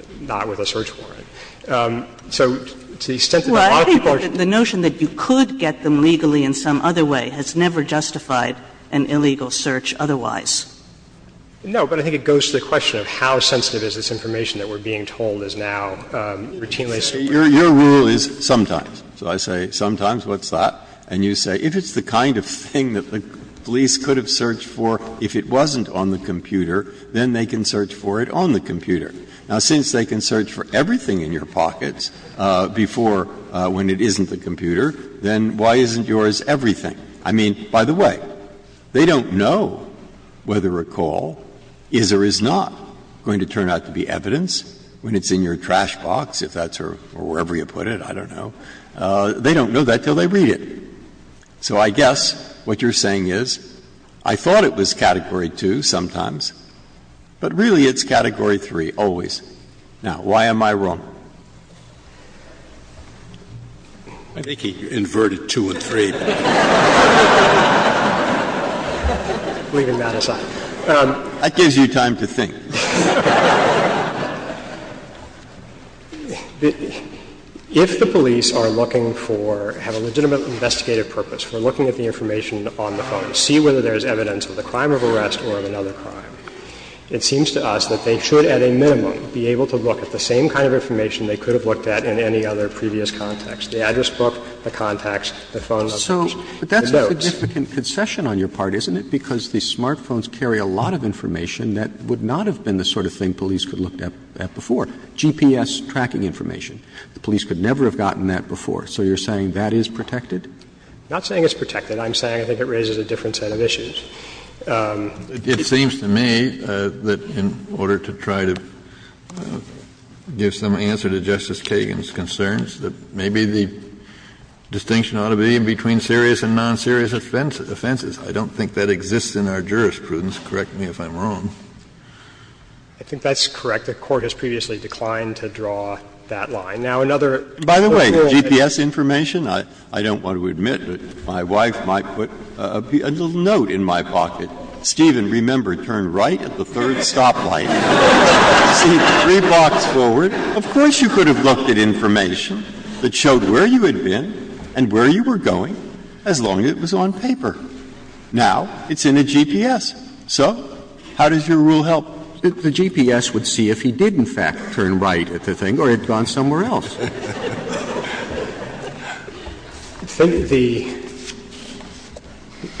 a search warrant. So to the extent that a lot of people are going to get them, the notion that you could get them legally in some other way has never justified an illegal search otherwise. No, but I think it goes to the question of how sensitive is this information that we are being told is now routinely distributed. Your rule is sometimes. So I say sometimes, what's that? And you say, if it's the kind of thing that the police could have searched for if it wasn't on the computer, then they can search for it on the computer. Now, since they can search for everything in your pockets before when it isn't the computer, then why isn't yours everything? I mean, by the way, they don't know whether a call is or is not going to turn out to be evidence when it's in your trash box, if that's or wherever you put it, I don't know. They don't know that until they read it. So I guess what you're saying is, I thought it was Category 2 sometimes, but really it's Category 3 always. Now, why am I wrong? I think he inverted 2 and 3. Leaving that aside. That gives you time to think. If the police are looking for, have a legitimate investigative purpose for looking at the information on the phone, see whether there's evidence of the crime of arrest or of another crime, it seems to us that they should, at a minimum, be able to look at the same kind of information they could have looked at in any other previous context, the address book, the contacts, the phone numbers, the notes. Roberts But that's a significant concession on your part, isn't it, because the smartphones carry a lot of information that would not have been the sort of thing police could have looked at before. GPS tracking information. The police could never have gotten that before. So you're saying that is protected? Not saying it's protected. I'm saying I think it raises a different set of issues. It seems to me that in order to try to give some answer to Justice Kagan's concerns, that maybe the distinction ought to be between serious and non-serious offenses. I don't think that exists in our jurisprudence. Correct me if I'm wrong. I think that's correct. The Court has previously declined to draw that line. Now, another sort of rule that's not protected is that the police can't look at the that showed where you had been and where you were going as long as it was on paper. Now, it's in a GPS. So how does your rule help? The GPS would see if he did, in fact, turn right at the thing or had gone somewhere else. I think the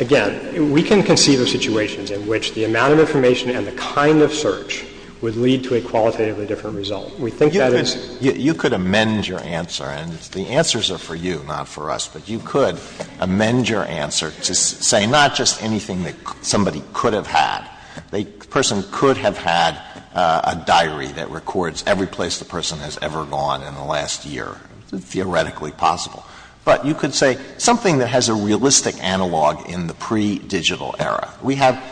— again, we can conceive of situations in which the amount of information and the kind of search would lead to a qualitatively different result. We think that is — Alito, you could amend your answer, and the answers are for you, not for us. But you could amend your answer to say not just anything that somebody could have had. The person could have had a diary that records every place the person has ever gone in the last year, theoretically possible. But you could say something that has a realistic analog in the pre-digital era. We have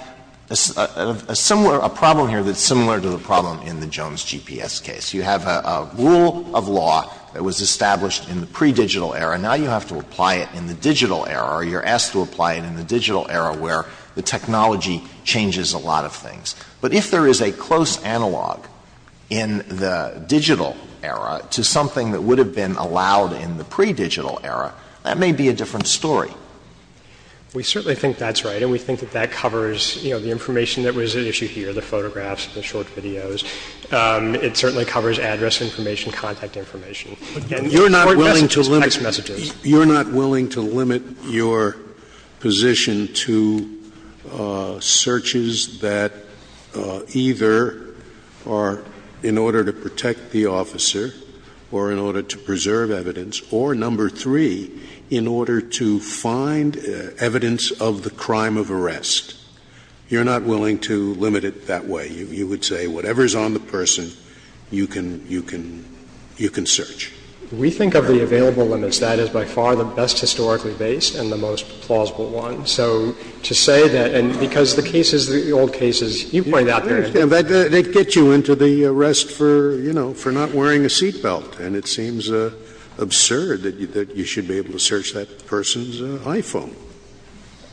a similar — a problem here that's similar to the problem in the Jones GPS case. You have a rule of law that was established in the pre-digital era. Now you have to apply it in the digital era, or you're asked to apply it in the digital era where the technology changes a lot of things. But if there is a close analog in the digital era to something that would have been allowed in the pre-digital era, that may be a different story. We certainly think that's right, and we think that that covers, you know, the information that was at issue here, the photographs, the short videos. It certainly covers address information, contact information. And you're not willing to limit your position to searches that either are in order to protect the officer or in order to preserve evidence or, number three, in order to find evidence of the crime of arrest. You're not willing to limit it that way. You would say whatever is on the person, you can — you can — you can search. We think of the available limits. That is by far the best historically based and the most plausible one. So to say that — and because the cases, the old cases, you point out there— I understand. They get you into the arrest for, you know, for not wearing a seat belt. And it seems absurd that you should be able to search that person's iPhone.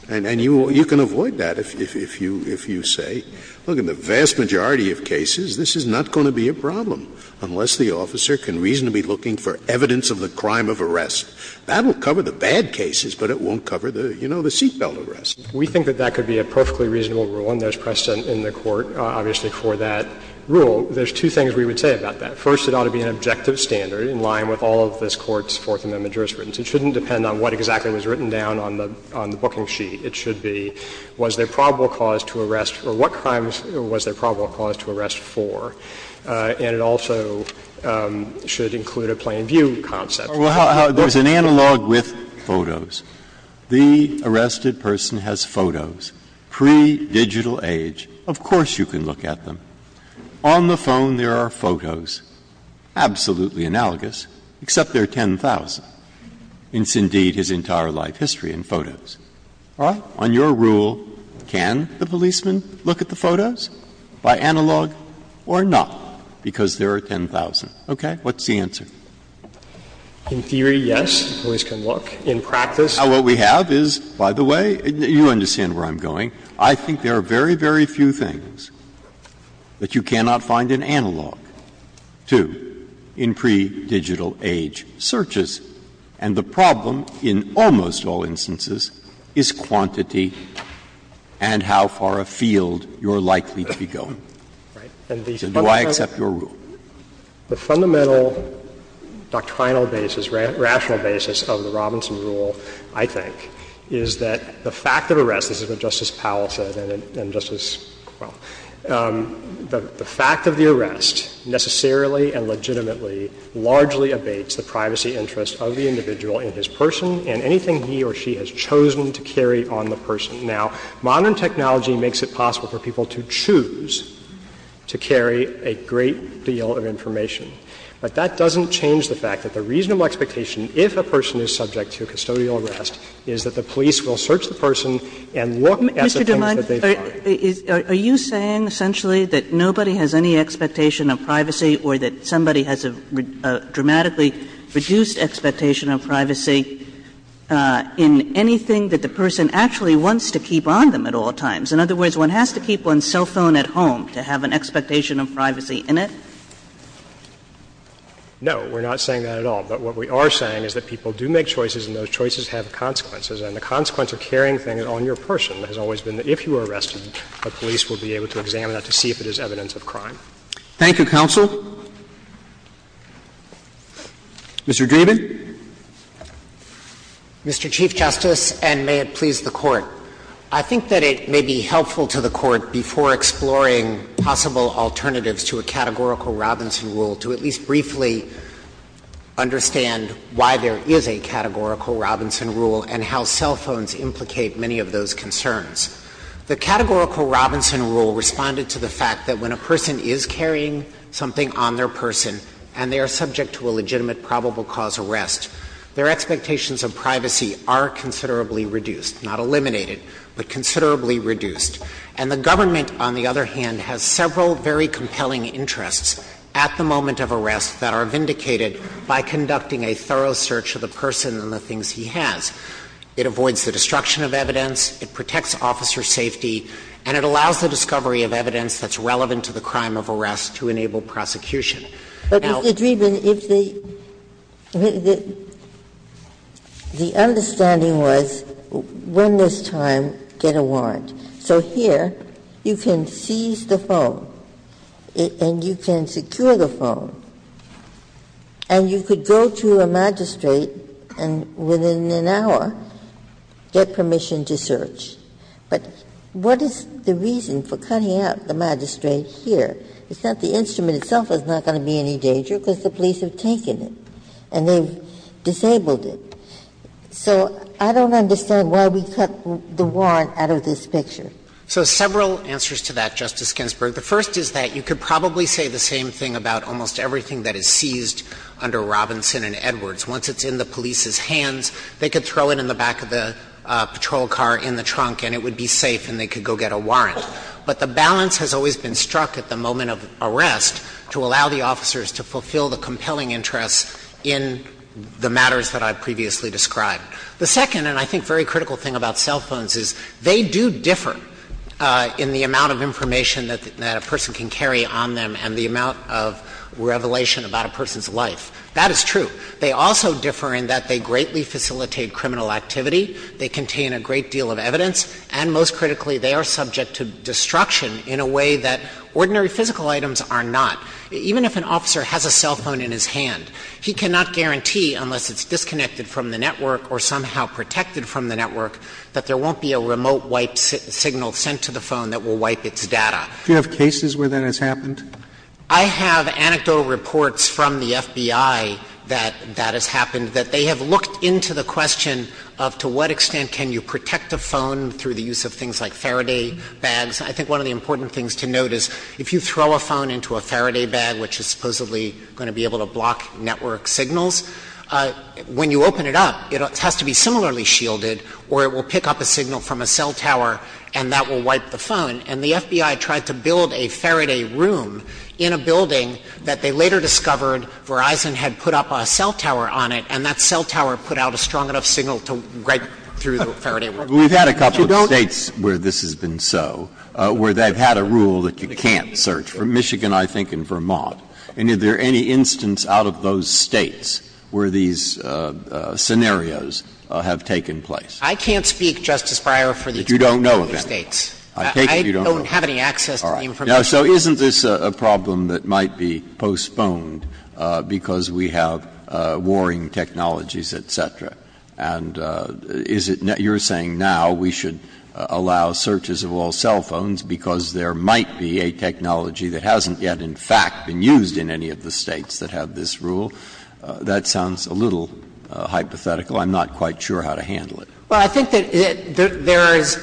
And you can avoid that if you say, look, in the vast majority of cases, this is not going to be a problem unless the officer can reasonably be looking for evidence of the crime of arrest. That will cover the bad cases, but it won't cover the, you know, the seat belt arrest. We think that that could be a perfectly reasonable rule, and there's precedent in the Court, obviously, for that rule. There's two things we would say about that. First, it ought to be an objective standard in line with all of this Court's Fourth Amendment jurisprudence. It shouldn't depend on what exactly was written down on the — on the booking sheet. It should be, was there probable cause to arrest, or what crimes was there probable cause to arrest for? And it also should include a plain view concept. Breyer. Well, there's an analog with photos. The arrested person has photos, pre-digital age. Of course you can look at them. On the phone, there are photos, absolutely analogous, except they're 10,000. And that's, indeed, his entire life history in photos. All right? On your rule, can the policeman look at the photos by analog or not, because there are 10,000? Okay? What's the answer? In theory, yes, the police can look. In practice, what we have is, by the way, you understand where I'm going. I think there are very, very few things that you cannot find in analog, too, in pre-digital age searches. And the problem in almost all instances is quantity and how far afield you're likely to be going. So do I accept your rule? The fundamental doctrinal basis, rational basis of the Robinson rule, I think, is that the fact of arrest, this is what Justice Powell said and Justice Quill, the fact of arrest, is that the police will search the person and look at the things that they find. And that's what the person has chosen to carry on the person. Now, modern technology makes it possible for people to choose to carry a great deal of information. But that doesn't change the fact that the reasonable expectation, if a person is subject to a custodial arrest, is that the police will search the person and look at the things that they find. Kagan. Are you saying essentially that nobody has any expectation of privacy or that somebody has a dramatically reduced expectation of privacy in anything that the person actually wants to keep on them at all times? In other words, one has to keep one's cell phone at home to have an expectation of privacy in it? No. We're not saying that at all. But what we are saying is that people do make choices and those choices have consequences. And the consequence of carrying things on your person has always been that if you are arrested, the police will be able to examine it to see if it is evidence of crime. Thank you, counsel. Mr. Dreeben. Mr. Chief Justice, and may it please the Court. I think that it may be helpful to the Court, before exploring possible alternatives to a categorical Robinson rule, to at least briefly understand why there is a categorical Robinson rule and how cell phones implicate many of those concerns. The categorical Robinson rule responded to the fact that when a person is carrying something on their person and they are subject to a legitimate probable cause arrest, their expectations of privacy are considerably reduced, not eliminated, but considerably reduced. And the government, on the other hand, has several very compelling interests at the moment of arrest that are vindicated by conducting a thorough search of the person and the things he has. It avoids the destruction of evidence, it protects officer safety, and it allows the discovery of evidence that's relevant to the crime of arrest to enable prosecution. Now the question is, if the understanding was, when this time, get a warrant. So here you can seize the phone and you can secure the phone and you could go to a magistrate and within an hour get permission to search. But what is the reason for cutting out the magistrate here? It's not the instrument itself that's not going to be in any danger, because the police have taken it and they've disabled it. So I don't understand why we cut the warrant out of this picture. So several answers to that, Justice Ginsburg. The first is that you could probably say the same thing about almost everything that is seized under Robinson and Edwards. Once it's in the police's hands, they could throw it in the back of the patrol car in the trunk and it would be safe and they could go get a warrant. But the balance has always been struck at the moment of arrest to allow the officers to fulfill the compelling interests in the matters that I previously described. The second, and I think very critical thing about cell phones, is they do differ in the amount of information that a person can carry on them and the amount of revelation about a person's life. That is true. They also differ in that they greatly facilitate criminal activity, they contain a great deal of evidence, and most critically, they are subject to destruction in a way that ordinary physical items are not. Even if an officer has a cell phone in his hand, he cannot guarantee, unless it's disconnected from the network or somehow protected from the network, that there won't be a remote wipe signal sent to the phone that will wipe its data. Do you have cases where that has happened? I have anecdotal reports from the FBI that that has happened, that they have looked into the question of to what extent can you protect a phone through the use of things like Faraday bags. I think one of the important things to note is if you throw a phone into a Faraday bag, which is supposedly going to be able to block network signals, when you open it up, it has to be similarly shielded or it will pick up a signal from a cell tower and that will wipe the phone. And the FBI tried to build a Faraday room in a building that they later discovered Verizon had put up a cell tower on it, and that cell tower put out a strong enough signal to write through the Faraday room. But you don't You've had a couple of States where this has been so, where they've had a rule that you can't search, from Michigan, I think, and Vermont. And is there any instance out of those States where these scenarios have taken place? I can't speak, Justice Breyer, for the example of the States. But you don't know of any? I don't have any access to the information. Breyer, so isn't this a problem that might be postponed because we have warring technologies, et cetera? And is it you're saying now we should allow searches of all cell phones because there might be a technology that hasn't yet, in fact, been used in any of the States that have this rule? That sounds a little hypothetical. I'm not quite sure how to handle it. Well, I think that there is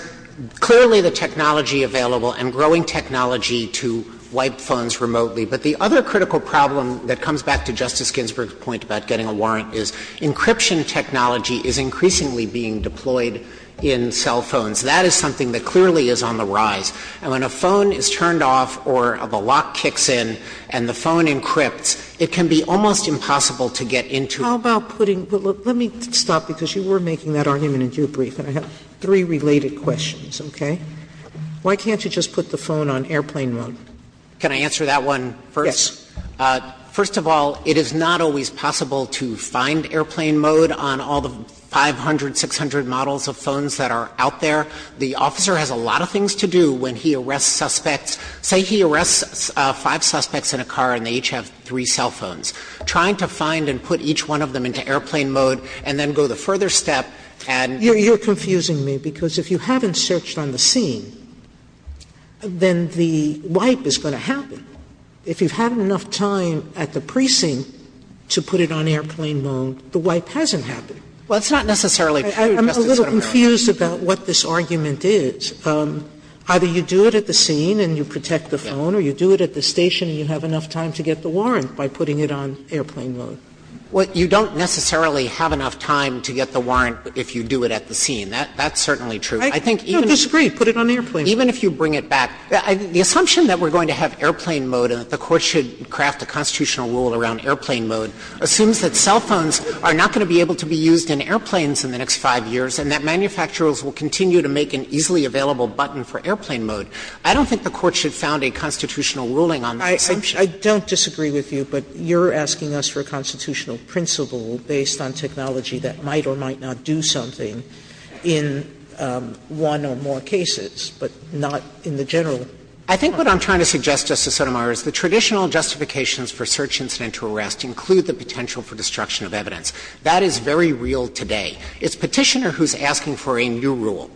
clearly the technology available and growing technology to wipe phones remotely. But the other critical problem that comes back to Justice Ginsburg's point about getting a warrant is encryption technology is increasingly being deployed in cell phones. That is something that clearly is on the rise. And when a phone is turned off or the lock kicks in and the phone encrypts, it can be almost impossible to get into How about putting Let me stop because you were making that argument in your brief, and I have three related questions, okay? Why can't you just put the phone on airplane mode? Can I answer that one first? Yes. First of all, it is not always possible to find airplane mode on all the 500, 600 models of phones that are out there. The officer has a lot of things to do when he arrests suspects. Say he arrests five suspects in a car and they each have three cell phones. Trying to find and put each one of them into airplane mode and then go the further step and You're confusing me because if you haven't searched on the scene, then the wipe is going to happen. If you've had enough time at the precinct to put it on airplane mode, the wipe hasn't happened. Well, it's not necessarily true, Justice Sotomayor. I'm a little confused about what this argument is. Either you do it at the scene and you protect the phone or you do it at the station and you have enough time to get the warrant by putting it on airplane mode. Well, you don't necessarily have enough time to get the warrant if you do it at the scene. That's certainly true. I think even I disagree. Put it on airplane mode. Even if you bring it back, the assumption that we're going to have airplane mode and that the Court should craft a constitutional rule around airplane mode assumes that cell phones are not going to be able to be used in airplanes in the next five years and that manufacturers will continue to make an easily available button for airplane mode. I don't think the Court should found a constitutional ruling on the assumption. Sotomayor, I don't disagree with you, but you're asking us for a constitutional principle based on technology that might or might not do something in one or more cases, but not in the general. I think what I'm trying to suggest, Justice Sotomayor, is the traditional justifications for search incident to arrest include the potential for destruction of evidence. That is very real today. It's Petitioner who's asking for a new rule.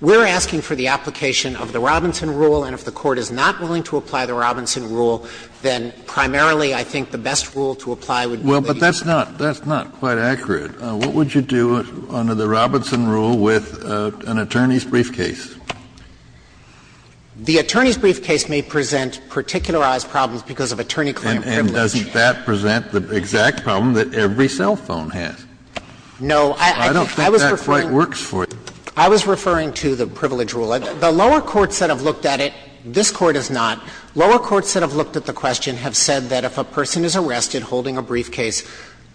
We're asking for the application of the Robinson rule, and if the Court is not willing to apply the Robinson rule, then primarily, I think, the best rule to apply would be that you do it. Kennedy, but that's not quite accurate. What would you do under the Robinson rule with an attorney's briefcase? The attorney's briefcase may present particularized problems because of attorney claim privilege. And doesn't that present the exact problem that every cell phone has? No, I was referring to the privilege rule. The lower courts that have looked at it, this Court has not, lower courts that have looked at the question have said that if a person is arrested holding a briefcase,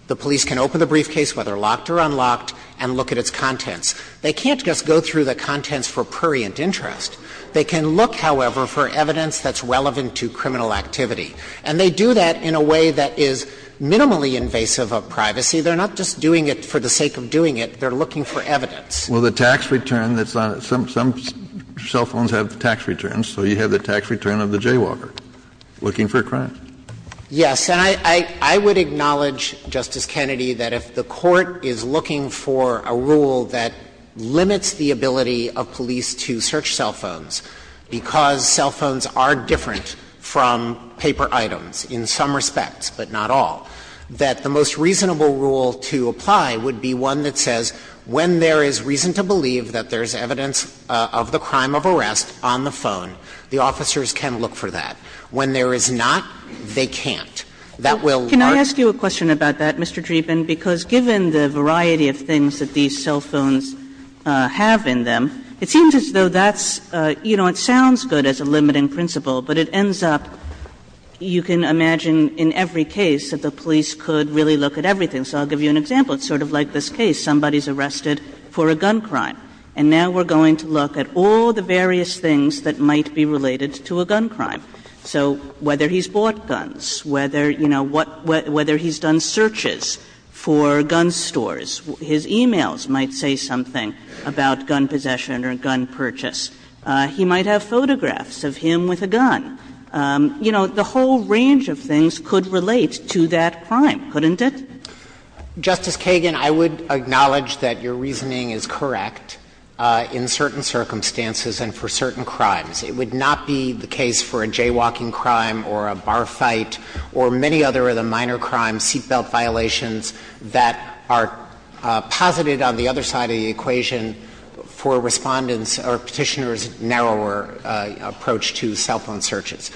the police can open the briefcase, whether locked or unlocked, and look at its contents. They can't just go through the contents for prurient interest. They can look, however, for evidence that's relevant to criminal activity. And they do that in a way that is minimally invasive of privacy. They're not just doing it for the sake of doing it. They're looking for evidence. Well, the tax return that's on it, some cell phones have tax returns, so you have the tax return of the jaywalker, looking for a crime. Yes. And I would acknowledge, Justice Kennedy, that if the Court is looking for a rule that limits the ability of police to search cell phones because cell phones are different from paper items in some respects, but not all, that the most reasonable rule to apply would be one which says, when there is reason to believe that there is evidence of the crime of arrest on phone, the officers can look for that. When there is not, they can't. That will work. Kagan would ask you a question about that, Mr. Dreeben, because given the variety of things that these cell phones have in them, it seems as though that's, you know, it sounds good as a limiting principle, but it ends up, you can imagine in every case that the police could really look at everything. So I'll give you an example. It's sort of like this case. Somebody's arrested for a gun crime, and now we're going to look at all the various things that might be related to a gun crime. So whether he's bought guns, whether, you know, what he's done searches for gun stores. His e-mails might say something about gun possession or gun purchase. He might have photographs of him with a gun. You know, the whole range of things could relate to that crime, couldn't it? Justice Kagan, I would acknowledge that your reasoning is correct in certain circumstances and for certain crimes. It would not be the case for a jaywalking crime or a bar fight or many other of the minor crimes, seatbelt violations, that are posited on the other side of the equation for Respondent's or Petitioner's narrower approach to cell phone searches.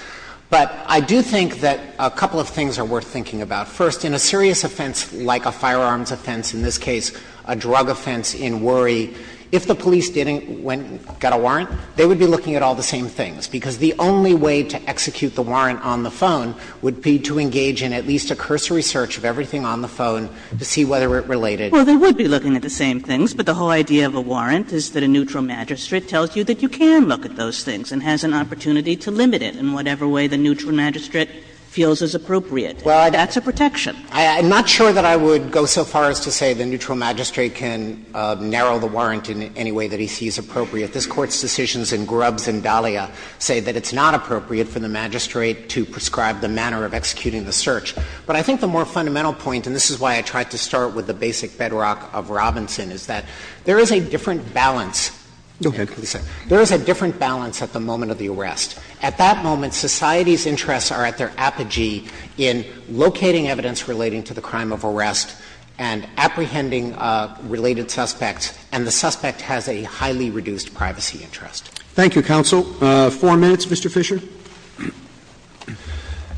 But I do think that a couple of things are worth thinking about. First, in a serious offense like a firearms offense, in this case a drug offense in Worry, if the police didn't get a warrant, they would be looking at all the same things, because the only way to execute the warrant on the phone would be to engage in at least a cursory search of everything on the phone to see whether it related. Kagan. Well, they would be looking at the same things, but the whole idea of a warrant is that a neutral magistrate tells you that you can look at those things and has an opportunity to limit it in whatever way the neutral magistrate feels is appropriate. That's a protection. I'm not sure that I would go so far as to say the neutral magistrate can narrow the warrant in any way that he sees appropriate. This Court's decisions in Grubbs and Dahlia say that it's not appropriate for the magistrate to prescribe the manner of executing the search. But I think the more fundamental point, and this is why I tried to start with the basic bedrock of Robinson, is that there is a different balance. Roberts. Go ahead. There is a different balance at the moment of the arrest. At that moment, society's interests are at their apogee in locating evidence relating to the crime of arrest and apprehending related suspects, and the suspect has a highly reduced privacy interest. Thank you, counsel. Four minutes, Mr. Fisher.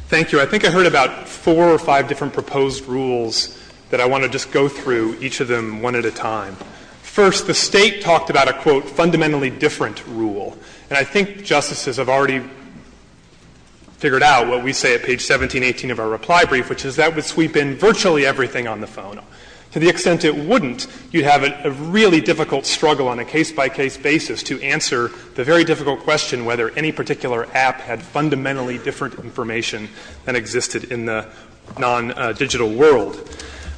Thank you. I think I heard about four or five different proposed rules that I want to just go through, each of them one at a time. First, the State talked about a, quote, fundamentally different rule. And I think justices have already figured out what we say at page 1718 of our reply brief, which is that would sweep in virtually everything on the phone. To the extent it wouldn't, you'd have a really difficult struggle on a case-by-case basis to answer the very difficult question whether any particular app had fundamentally different information than existed in the non-digital world.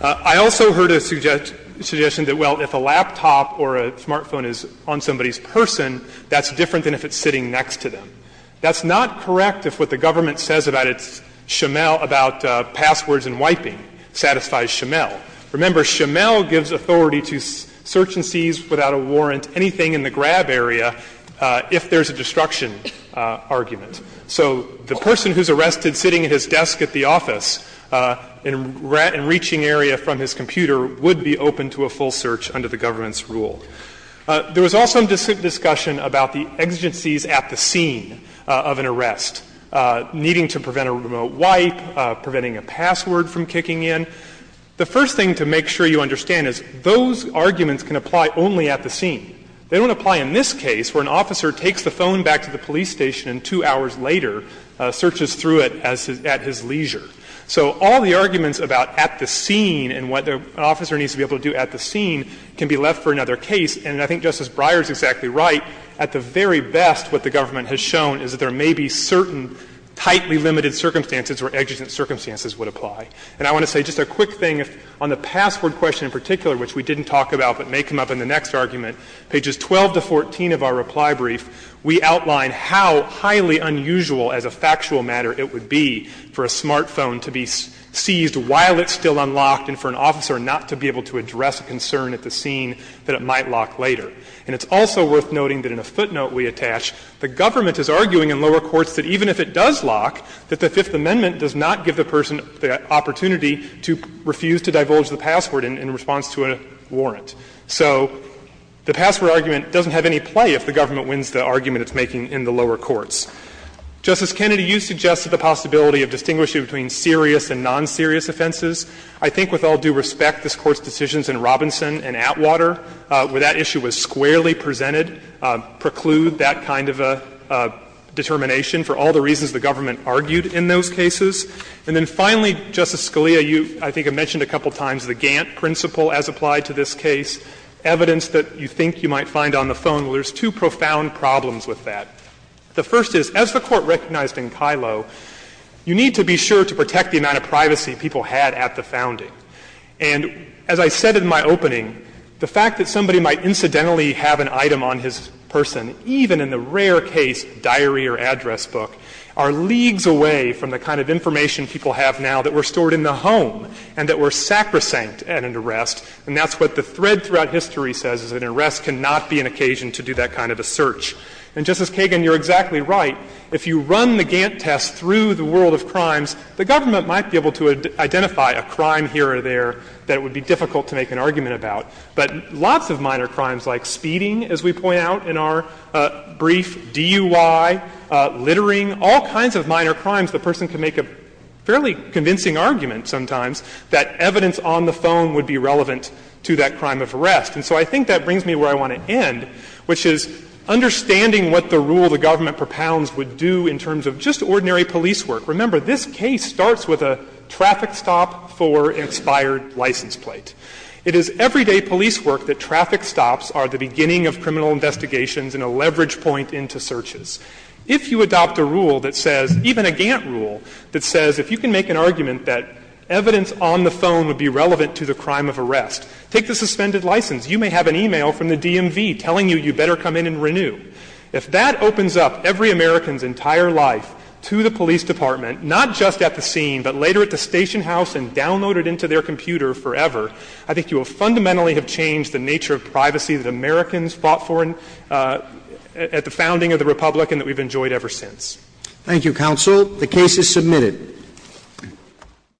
I also heard a suggestion that, well, if a laptop or a smartphone is on somebody's person, that's different than if it's sitting next to them. That's not correct if what the government says about its Shamel, about passwords and wiping, satisfies Shamel. Remember, Shamel gives authority to search and seize without a warrant anything in the grab area if there's a destruction argument. So the person who's arrested sitting at his desk at the office and reaching area from his computer would be open to a full search under the government's rule. There was also discussion about the exigencies at the scene of an arrest, needing to prevent a remote wipe, preventing a password from kicking in. The first thing to make sure you understand is those arguments can apply only at the scene. They don't apply in this case where an officer takes the phone back to the police station and two hours later searches through it at his leisure. So all the arguments about at the scene and what an officer needs to be able to do at the scene can be left for another case. And I think Justice Breyer is exactly right. At the very best, what the government has shown is that there may be certain tightly limited circumstances where exigent circumstances would apply. And I want to say just a quick thing. On the password question in particular, which we didn't talk about but may come up in the next argument, pages 12 to 14 of our reply brief, we outline how highly unusual as a factual matter it would be for a smartphone to be seized while it's still unlocked and for an officer not to be able to address a concern at the scene that it might lock later. And it's also worth noting that in a footnote we attach, the government is arguing in lower courts that even if it does lock, that the Fifth Amendment does not give the person the opportunity to refuse to divulge the password in response to a warrant. So the password argument doesn't have any play if the government wins the argument it's making in the lower courts. Justice Kennedy, you suggested the possibility of distinguishing between serious and non-serious offenses. I think with all due respect, this Court's decisions in Robinson and Atwater, where that issue was squarely presented, preclude that kind of a determination for all the reasons the government argued in those cases. And then finally, Justice Scalia, you I think have mentioned a couple times the Gantt case, evidence that you think you might find on the phone. Well, there's two profound problems with that. The first is, as the Court recognized in Kilo, you need to be sure to protect the amount of privacy people had at the founding. And as I said in my opening, the fact that somebody might incidentally have an item on his person, even in the rare case diary or address book, are leagues away from the kind of information people have now that were stored in the home and that were sacrosanct at an arrest. And that's what the thread throughout history says, is an arrest cannot be an occasion to do that kind of a search. And, Justice Kagan, you're exactly right. If you run the Gantt test through the world of crimes, the government might be able to identify a crime here or there that would be difficult to make an argument about. But lots of minor crimes like speeding, as we point out in our brief, DUI, littering, all kinds of minor crimes, the person can make a fairly convincing argument sometimes that evidence on the phone would be relevant to that crime of arrest. And so I think that brings me where I want to end, which is understanding what the rule the government propounds would do in terms of just ordinary police work. Remember, this case starts with a traffic stop for an expired license plate. It is everyday police work that traffic stops are the beginning of criminal investigations and a leverage point into searches. If you adopt a rule that says, even a Gantt rule, that says if you can make an argument that evidence on the phone would be relevant to the crime of arrest, take the suspended license. You may have an e-mail from the DMV telling you, you better come in and renew. If that opens up every American's entire life to the police department, not just at the scene, but later at the station house and downloaded into their computer forever, I think you will fundamentally have changed the nature of privacy that Americans fought for at the founding of the Republic and that we've enjoyed ever since. Roberts. Thank you, counsel. The case is submitted.